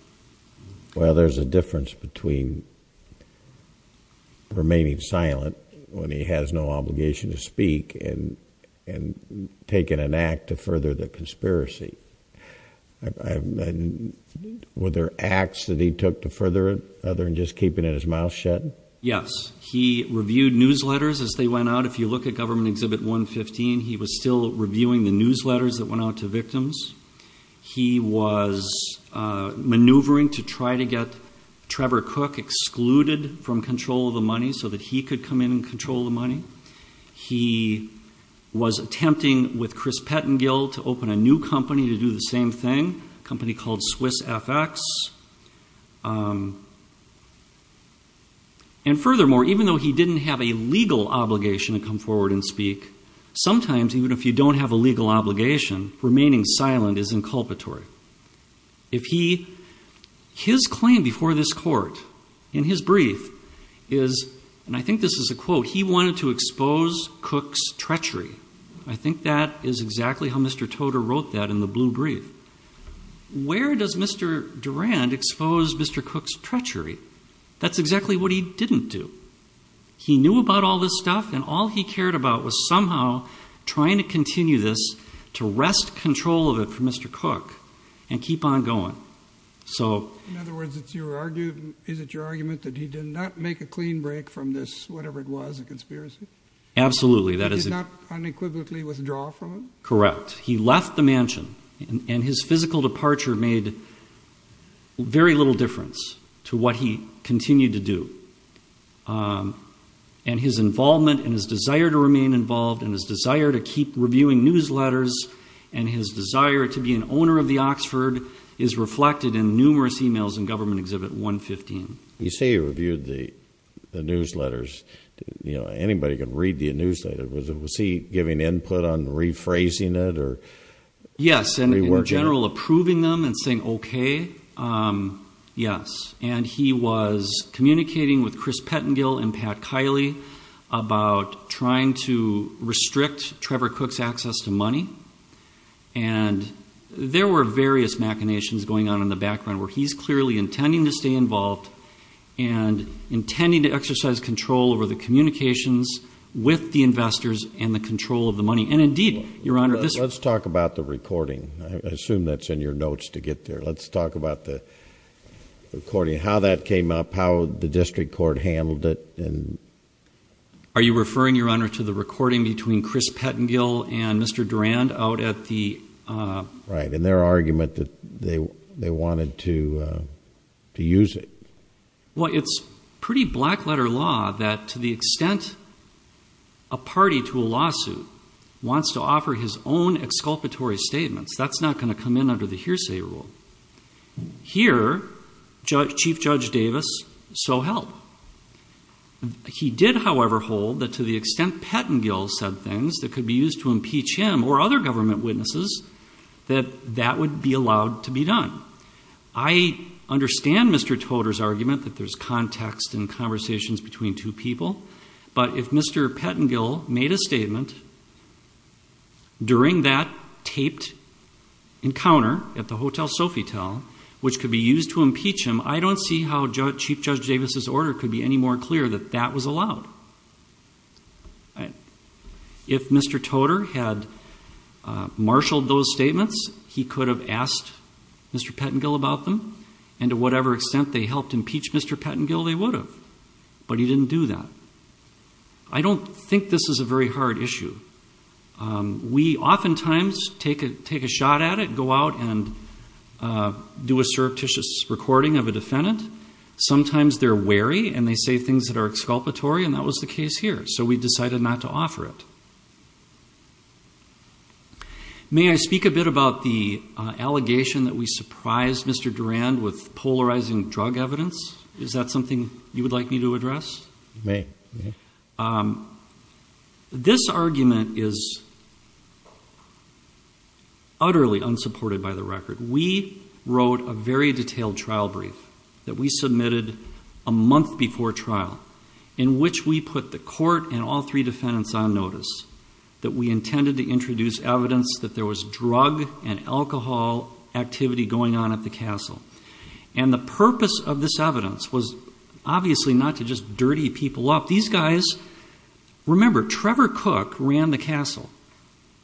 Well, there's a difference between remaining silent when he has no obligation to speak and taking an act to further the conspiracy. Were there acts that he took to further it other than just keeping his mouth shut? Yes. He reviewed newsletters as they went out. If you look at Government Exhibit 115, he was still reviewing the newsletters that went out to victims. He was maneuvering to try to get Trevor Cook excluded from control of the money so that he could come in and control the money. He was attempting with Chris Pettengill to open a new company to do the same thing, a company called Swiss FX. And furthermore, even though he didn't have a legal obligation to come forward and speak, sometimes even if you don't have a legal obligation, remaining silent is inculpatory. His claim before this court in his brief is, and I think this is a quote, he wanted to expose Cook's treachery. I think that is exactly how Mr. Toder wrote that in the blue brief. Where does Mr. Durand expose Mr. Cook's treachery? That's exactly what he didn't do. He knew about all this stuff and all he cared about was somehow trying to continue this to wrest control of it for Mr. Cook and keep on going. In other words, is it your argument that he did not make a clean break from this, whatever it was, a conspiracy? Absolutely. He did not unequivocally withdraw from it? Correct. He left the mansion and his physical departure made very little difference to what he continued to do. And his involvement and his desire to remain involved and his desire to keep reviewing newsletters and his desire to be an owner of the Oxford is reflected in numerous emails in Government Exhibit 115. You say he reviewed the newsletters. Anybody can read the newsletter. In general, approving them and saying, okay. Yes. And he was communicating with Chris Pettengill and Pat Kiley about trying to restrict Trevor Cook's access to money. And there were various machinations going on in the background where he's clearly intending to stay involved and intending to exercise control over the communications with the investors and the control of the money. And indeed, Your Honor. Let's talk about the recording. I assume that's in your notes to get there. Let's talk about the recording, how that came up, how the district court handled it. Are you referring, Your Honor, to the recording between Chris Pettengill and Mr. Durand out at the... Right. And their argument that they wanted to use it. Wants to offer his own exculpatory statements. That's not going to come in under the hearsay rule. Here, Chief Judge Davis, so help. He did, however, hold that to the extent Pettengill said things that could be used to impeach him or other government witnesses, that that would be allowed to be done. I understand Mr. Toder's argument that there's context and conversations between two people. But if Mr. Pettengill made a statement during that taped encounter at the Hotel Sofitel, which could be used to impeach him, I don't see how Chief Judge Davis's order could be any more clear that that was allowed. If Mr. Toder had marshaled those statements, he could have asked Mr. Pettengill about them. And to whatever extent they helped impeach Mr. Pettengill, they would have. But he didn't do that. I don't think this is a very hard issue. We oftentimes take a shot at it, go out and do a surreptitious recording of a defendant. Sometimes they're wary and they say things that are exculpatory, and that was the case here. So we decided not to offer it. May I speak a bit about the allegation that we surprised Mr. Durand with polarizing drug evidence? Is that something you would like me to address? You may. This argument is utterly unsupported by the record. We wrote a very detailed trial brief that we submitted a month before trial, in which we put the court and all three defendants on notice that we intended to introduce evidence that there was drug and alcohol activity going on at the castle. And the purpose of this evidence was obviously not to just dirty people up. These guys, remember Trevor Cook ran the castle.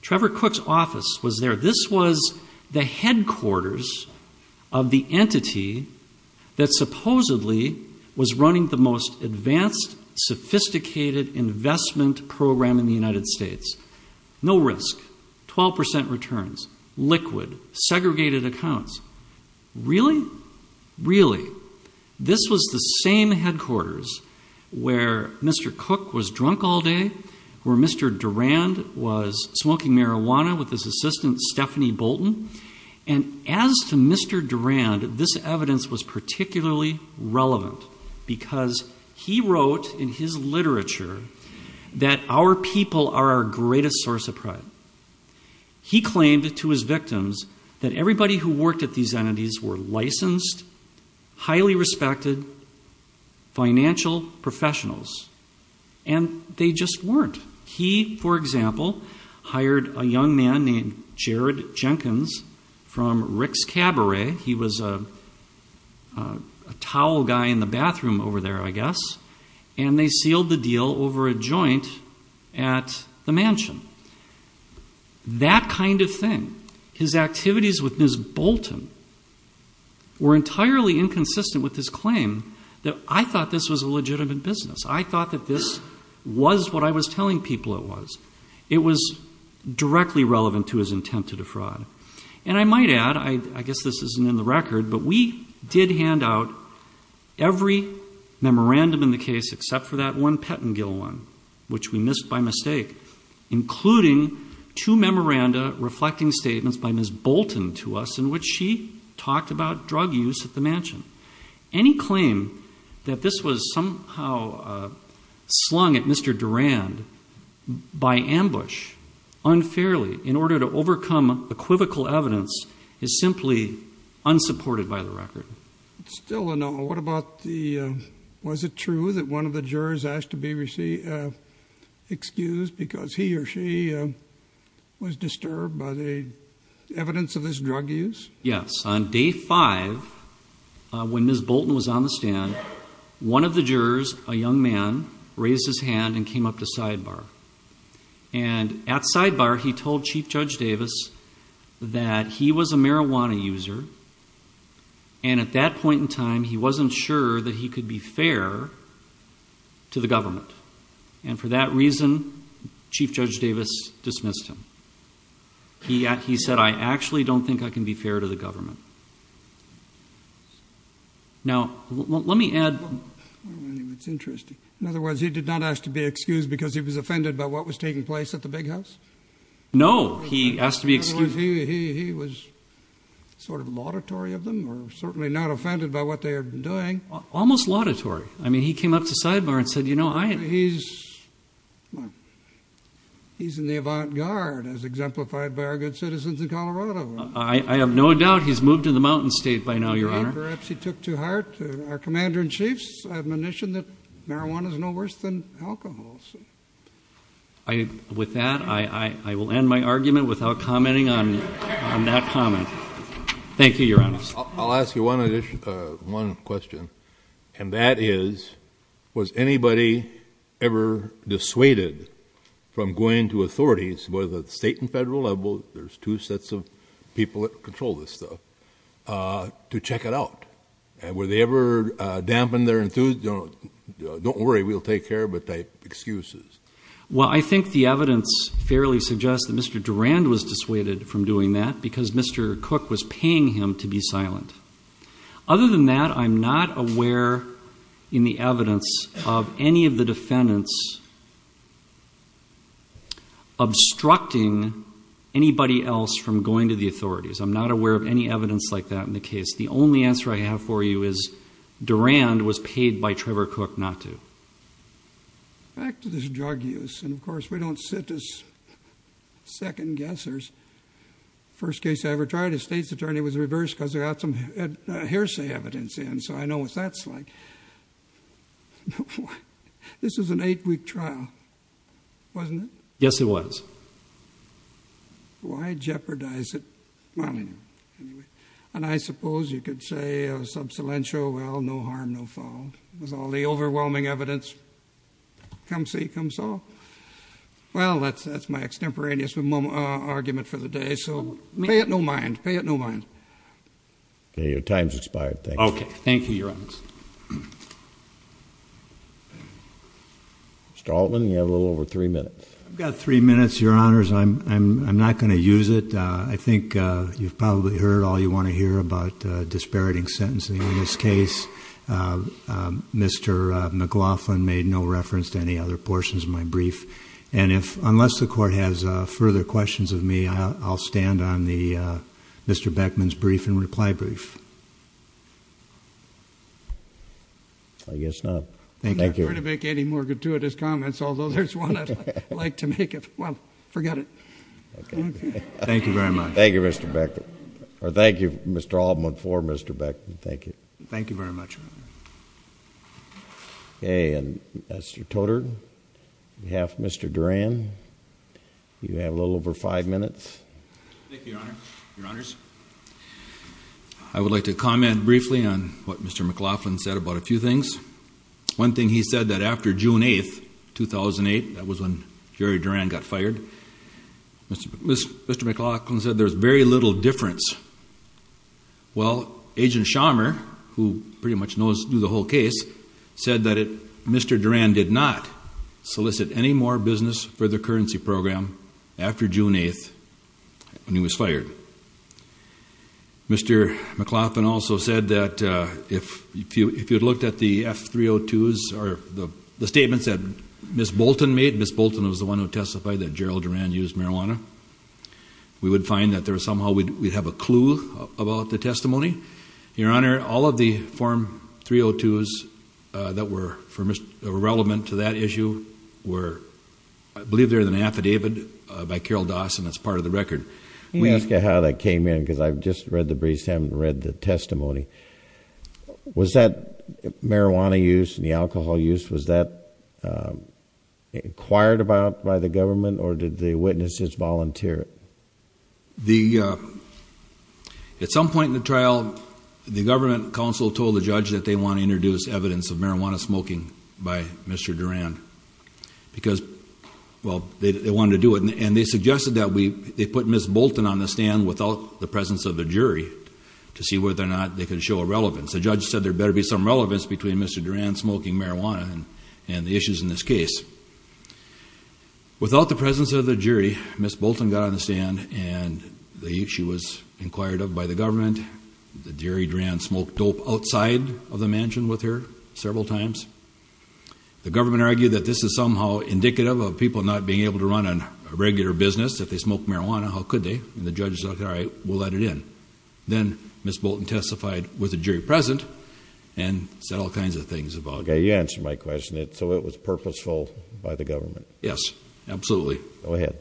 Trevor Cook's office was there. This was the headquarters of the entity that supposedly was running the most advanced, sophisticated investment program in the United States. No risk, 12% returns, liquid, segregated accounts. Really? Really. This was the same headquarters where Mr. Cook was drunk all day, where Mr. Durand was smoking marijuana with his assistant, Stephanie Bolton. And as to Mr. Durand, this evidence was particularly relevant because he wrote in his literature that our people are our greatest source of pride. He claimed to his victims that everybody who worked at these entities were licensed, highly respected financial professionals. And they just weren't. He, for example, hired a young man named Jared Jenkins from Rick's Cabaret. He was a towel guy in the bathroom over there, I guess. And they sealed the deal over a joint at the mansion. That kind of thing, his activities with Ms. Bolton were entirely inconsistent with his claim that I thought this was a legitimate business. I thought that this was what I was telling people it was. It was directly relevant to his intent to defraud. And I might add, I guess this isn't in the record, but we did hand out every memorandum in the case except for that one Pettengill one, which we missed by mistake, including two memoranda reflecting statements by Ms. Bolton to us in which she talked about drug use at the mansion. Any claim that this was somehow slung at Mr. Durand by ambush, unfairly, in order to overcome equivocal evidence is simply unsupported by the record. Still, what about the, was it true that one of the jurors asked to be excused because he or she was disturbed by the evidence of this drug use? Yes. On day five, when Ms. Bolton was on the stand, one of the jurors, a young man, raised his hand and came up to sidebar. And at sidebar, he told Chief Judge Davis that he was a marijuana user. And at that point in time, he wasn't sure that he could be fair to the government. And for that reason, Chief Judge Davis dismissed him. He, he said, I actually don't think I can be fair to the government. Now, let me add, it's interesting. In other words, he did not ask to be excused because he was offended by what was taking place at the big house? No, he asked to be excused. He was sort of laudatory of them or certainly not offended by what they are doing. Almost laudatory. I mean, he came up to sidebar and said, you know, I... He's, he's in the avant-garde as exemplified by our good citizens in Colorado. I have no doubt he's moved to the mountain state by now, Your Honor. Perhaps he took to heart our Commander-in-Chief's admonition that marijuana is no worse than alcohol. I, with that, I, I will end my argument without commenting on that comment. Thank you, Your Honor. I'll ask you one additional, one question. And that is, was anybody ever dissuaded from going to authorities, whether the state and federal level, there's two sets of people that control this stuff, to check it out? Were they ever dampened their enthusiasm? Don't worry, we'll take care of it. They, excuses. Well, I think the evidence fairly suggests that Mr. Durand was dissuaded from doing that because Mr. Cook was paying him to be silent. Other than that, I'm not aware in the evidence of any of the defendants obstructing anybody else from going to the authorities. I'm not aware of any evidence like that in the case. The only answer I have for you is Durand was paid by Trevor Cook not to. Back to this drug use. And of course we don't sit as second guessers. First case I ever tried, a state's attorney was reversed because they got some hearsay evidence in. So I know what that's like. This was an eight week trial, wasn't it? Yes, it was. Why jeopardize it? Anyway. And I suppose you could say a sub silencio, well, no harm, no fault. With all the overwhelming evidence. Come see, come solve. Well, that's my extemporaneous argument for the day. So pay it no mind. Pay it no mind. Your time's expired. Thank you. Okay. Thank you, Your Honors. Mr. Altman, you have a little over three minutes. I've got three minutes, Your Honors. I'm not going to use it. I think you've probably heard all you want to hear about disparaging sentencing in this case. Mr. McLaughlin made no reference to any other portions of my brief. And if, unless the court has further questions of me, I'll stand on the Mr. Beckman's brief and reply brief. I guess not. Thank you. I'm not going to make any more gratuitous comments. Although there's one I'd like to make if, well, forget it. Thank you very much. Thank you, Mr. Beckman. Or thank you, Mr. Altman, for Mr. Beckman. Thank you. Thank you very much. Okay. And Mr. Toter, on behalf of Mr. Duran, you have a little over five minutes. Thank you, Your Honor. Your Honors. I would like to comment briefly on what Mr. McLaughlin said about a few things. One thing he said that after June 8th, 2008, that was when Jerry Duran got fired. Mr. McLaughlin said there was very little difference. Well, Agent Schammer, who pretty much knew the whole case, said that Mr. Duran did not solicit any more business for the currency program after June 8th when he was fired. Mr. McLaughlin also said that if you had looked at the F-302s or the statements that Ms. Bolton was the one who testified that Gerald Duran used marijuana, we would find that somehow we'd have a clue about the testimony. Your Honor, all of the Form 302s that were relevant to that issue were, I believe, there's an affidavit by Carol Dawson that's part of the record. Let me ask you how that came in, because I've just read the briefs, haven't read the testimony. Was that marijuana use and the alcohol use, was that acquired about by the government or did the witnesses volunteer it? At some point in the trial, the government counsel told the judge that they want to introduce evidence of marijuana smoking by Mr. Duran because, well, they wanted to do it. And they suggested that they put Ms. Bolton on the stand without the presence of the jury to see whether or not they could show a relevance. The judge said there better be some relevance between Mr. Duran smoking marijuana and the issues in this case. Without the presence of the jury, Ms. Bolton got on the stand and the issue was inquired of by the government. The jury, Duran, smoked dope outside of the mansion with her several times. The government argued that this is somehow indicative of people not being able to run a regular business. If they smoked marijuana, how could they? And the judge said, all right, we'll let it in. Then Ms. Bolton testified with the jury present and said all kinds of things about it. You answered my question. So it was purposeful by the government. Yes, absolutely. Go ahead.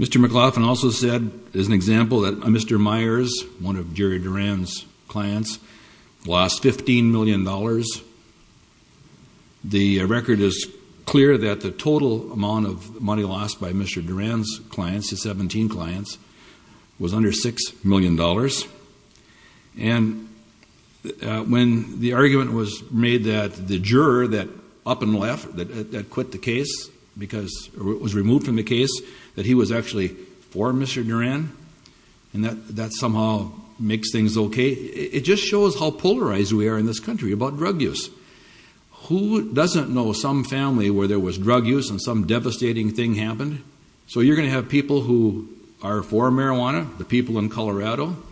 Mr. McLaughlin also said, as an example, that Mr. Myers, one of Jerry Duran's clients, lost $15 million. The record is clear that the total amount of money lost by Mr. Duran's clients, his 17 clients, was under $6 million. And when the argument was made that the juror that up and left, that quit the case, because it was removed from the case, that he was actually for Mr. Duran, and that somehow makes things okay, it just shows how polarized we are in this country about drug use. Who doesn't know some family where there was drug use and some devastating thing happened? So you're going to have people who are for marijuana, the people in Colorado, who are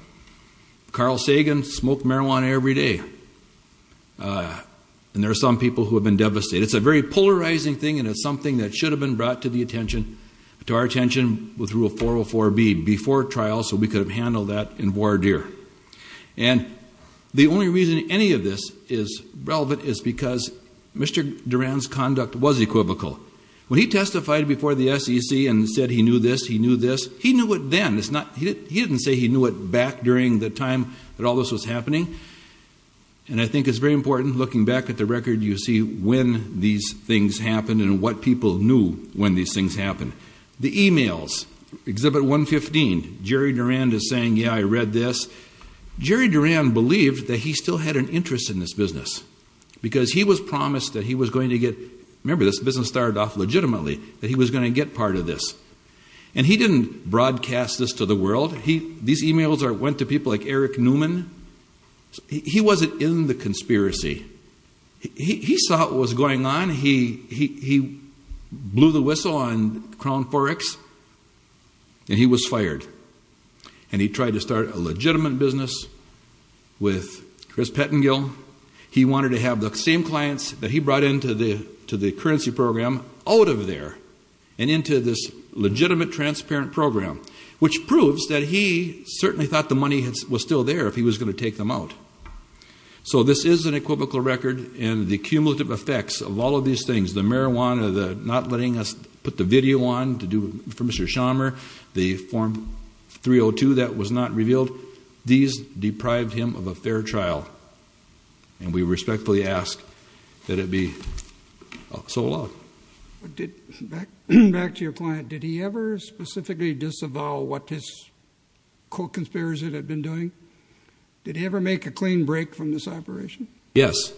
Carl Sagan, smoke marijuana every day. And there are some people who have been devastated. It's a very polarizing thing, and it's something that should have been brought to the attention, to our attention, with Rule 404b, before trial, so we could have handled that in voir dire. And the only reason any of this is relevant is because Mr. Duran's conduct was equivocal. When he testified before the SEC and said he knew this, he knew this, he knew it then. He didn't say he knew it back during the time that all this was happening. And I think it's very important, looking back at the record, you see when these things happened and what people knew when these things happened. The emails, Exhibit 115, Jerry Duran is saying, yeah, I read this. Jerry Duran believed that he still had an interest in this business, because he was promised that he was going to get, remember, this business started off legitimately, that he was going to get part of this. And he didn't broadcast this to the world. These emails went to people like Eric Newman. He wasn't in the conspiracy. He saw what was going on. He blew the whistle on Crown Forex, and he was fired. And he tried to start a legitimate business with Chris Pettengill. He wanted to have the same clients that he brought into the currency program out of there and into this legitimate, transparent program, which proves that he certainly thought the money was still there if he was going to take them out. So this is an equivocal record. And the cumulative effects of all of these things, the marijuana, the not letting us put the video on for Mr. Schaumer, the Form 302 that was not revealed, these deprived him of a fair trial. And we respectfully ask that it be so allowed. But back to your client. Did he ever specifically disavow what his co-conspirators had been doing? Did he ever make a clean break from this operation? Yes,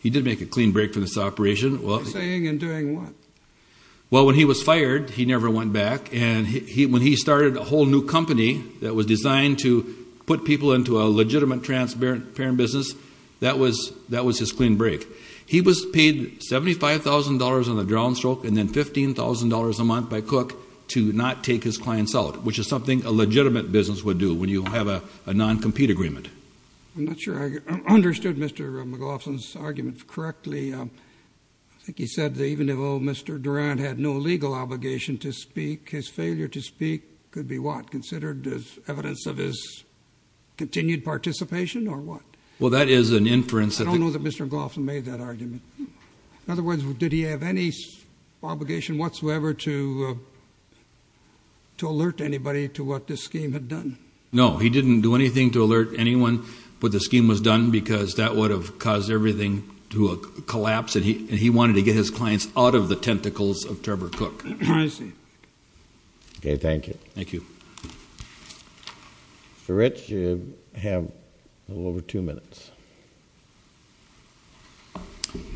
he did make a clean break from this operation. For saying and doing what? Well, when he was fired, he never went back. And when he started a whole new company that was designed to put people into a legitimate, transparent business, that was his clean break. He was paid $75,000 on a downstroke and then $15,000 a month by Cook to not take his clients out, which is something a legitimate business would do when you have a non-compete agreement. I'm not sure I understood Mr. McLaughlin's argument correctly. I think he said that even though Mr. Durant had no legal obligation to speak, his failure to speak could be what? Considered as evidence of his continued participation or what? Well, that is an inference. I don't know that Mr. McLaughlin made that argument. In other words, did he have any obligation whatsoever to alert anybody to what this scheme had done? No, he didn't do anything to alert anyone, but the scheme was done because that would have caused everything to collapse. And he wanted to get his clients out of the tentacles of Trevor Cook. I see. Okay, thank you. Thank you. Mr. Rich, you have a little over two minutes.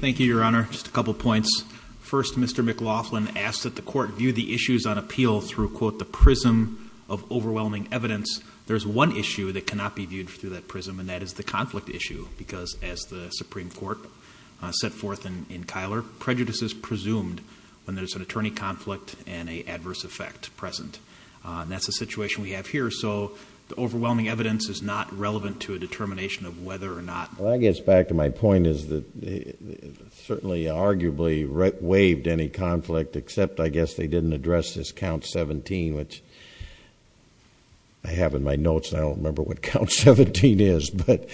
Thank you, Your Honor. Just a couple of points. First, Mr. McLaughlin asked that the court view the issues on appeal through, quote, the prism of overwhelming evidence. There's one issue that cannot be viewed through that prism, and that is the conflict issue. Because as the Supreme Court set forth in Kyler, prejudice is presumed when there's an attorney conflict and an adverse effect present. And that's the situation we have here. So the overwhelming evidence is not relevant to a determination of whether or not. Well, I guess back to my point is that it certainly arguably waived any conflict, except I guess they didn't address this count 17, which I have in my notes and I don't remember what count 17 is. But,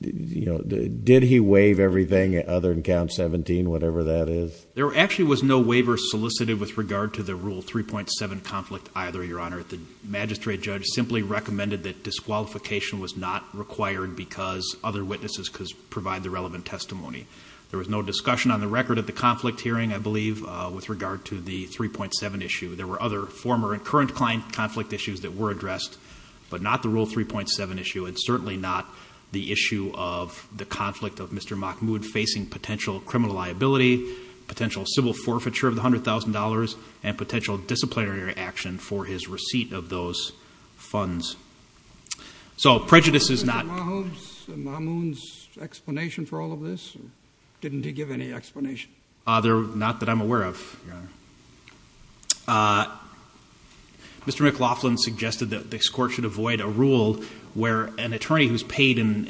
you know, did he waive everything other than count 17, whatever that is? There actually was no waiver solicited with regard to the rule 3.7 conflict either, Your Honor. The magistrate judge simply recommended that disqualification was not required because other witnesses could provide the relevant testimony. There was no discussion on the record of the conflict hearing, I believe, with regard to the 3.7 issue. There were other former and current client conflict issues that were addressed, but not the rule 3.7 issue, and certainly not the issue of the conflict of Mr. Mahmoud facing potential criminal liability, potential civil forfeiture of the $100,000, and potential disciplinary action for his receipt of those funds. So prejudice is not- Was it Mahmoud's explanation for all of this, or didn't he give any explanation? Not that I'm aware of, Your Honor. Mr. McLaughlin suggested that this court should avoid a rule where an attorney who's paid in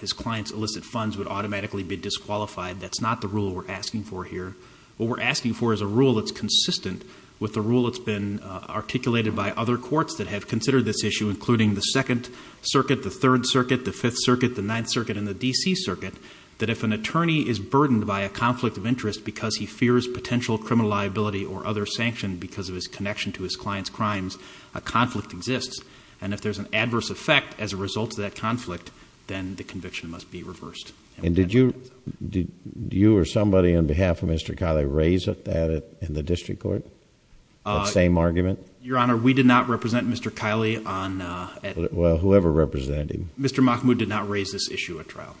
his client's illicit funds would automatically be disqualified. That's not the rule we're asking for here. What we're asking for is a rule that's consistent with the rule that's been articulated by other courts that have considered this issue, including the Second Circuit, the Third Circuit, the Fifth Circuit, the Ninth Circuit, and the D.C. Circuit, that if an attorney is burdened by a conflict of interest because he fears potential criminal liability or other sanction because of his connection to his client's crimes, a conflict exists. And if there's an adverse effect as a result of that conflict, then the conviction must be reversed. And did you or somebody on behalf of Mr. Kiley raise that in the district court, that same argument? Your Honor, we did not represent Mr. Kiley on- Well, whoever represented him. Mr. Mahmoud did not raise this issue at trial.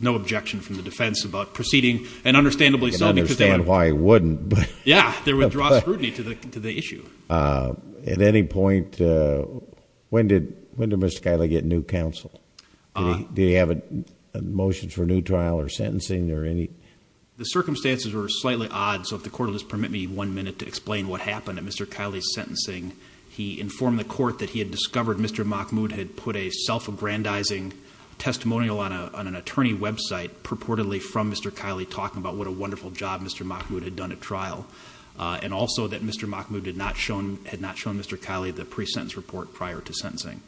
No objection from the defense about proceeding, and understandably so because they- I can understand why he wouldn't, but- Yeah, they withdraw scrutiny to the issue. At any point, when did Mr. Kiley get new counsel? Did he have a motion for new trial or sentencing or any- The circumstances were slightly odd, so if the court will just permit me one minute to explain what happened at Mr. Kiley's sentencing. He informed the court that he had discovered Mr. Mahmoud had put a self-aggrandizing testimonial on an attorney website purportedly from Mr. Kiley talking about what a wonderful job Mr. Mahmoud had done at trial, and also that Mr. Mahmoud had not shown Mr. Kiley the pre-sentence report prior to sentencing.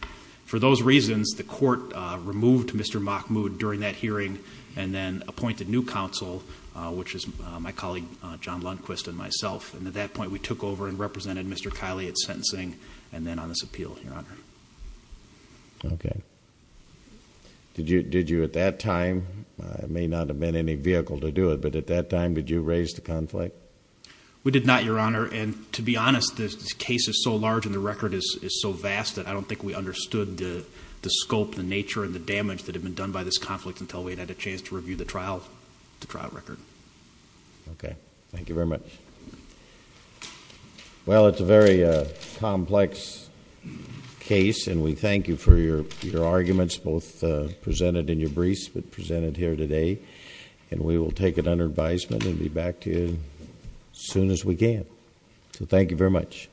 For those reasons, the court removed Mr. Mahmoud during that hearing and then appointed new counsel, which is my colleague John Lundquist and myself, and at that point we took over and represented Mr. Kiley at sentencing and then on this appeal, Your Honor. Okay. Did you at that time, it may not have been any vehicle to do it, but at that time did you raise the conflict? We did not, Your Honor, and to be honest, this case is so large and the record is so large, we never understood the scope, the nature, and the damage that had been done by this conflict until we had a chance to review the trial record. Okay. Thank you very much. Well, it's a very complex case and we thank you for your arguments, both presented in your briefs but presented here today, and we will take it under advisement and be back to you as soon as we can. So thank you very much.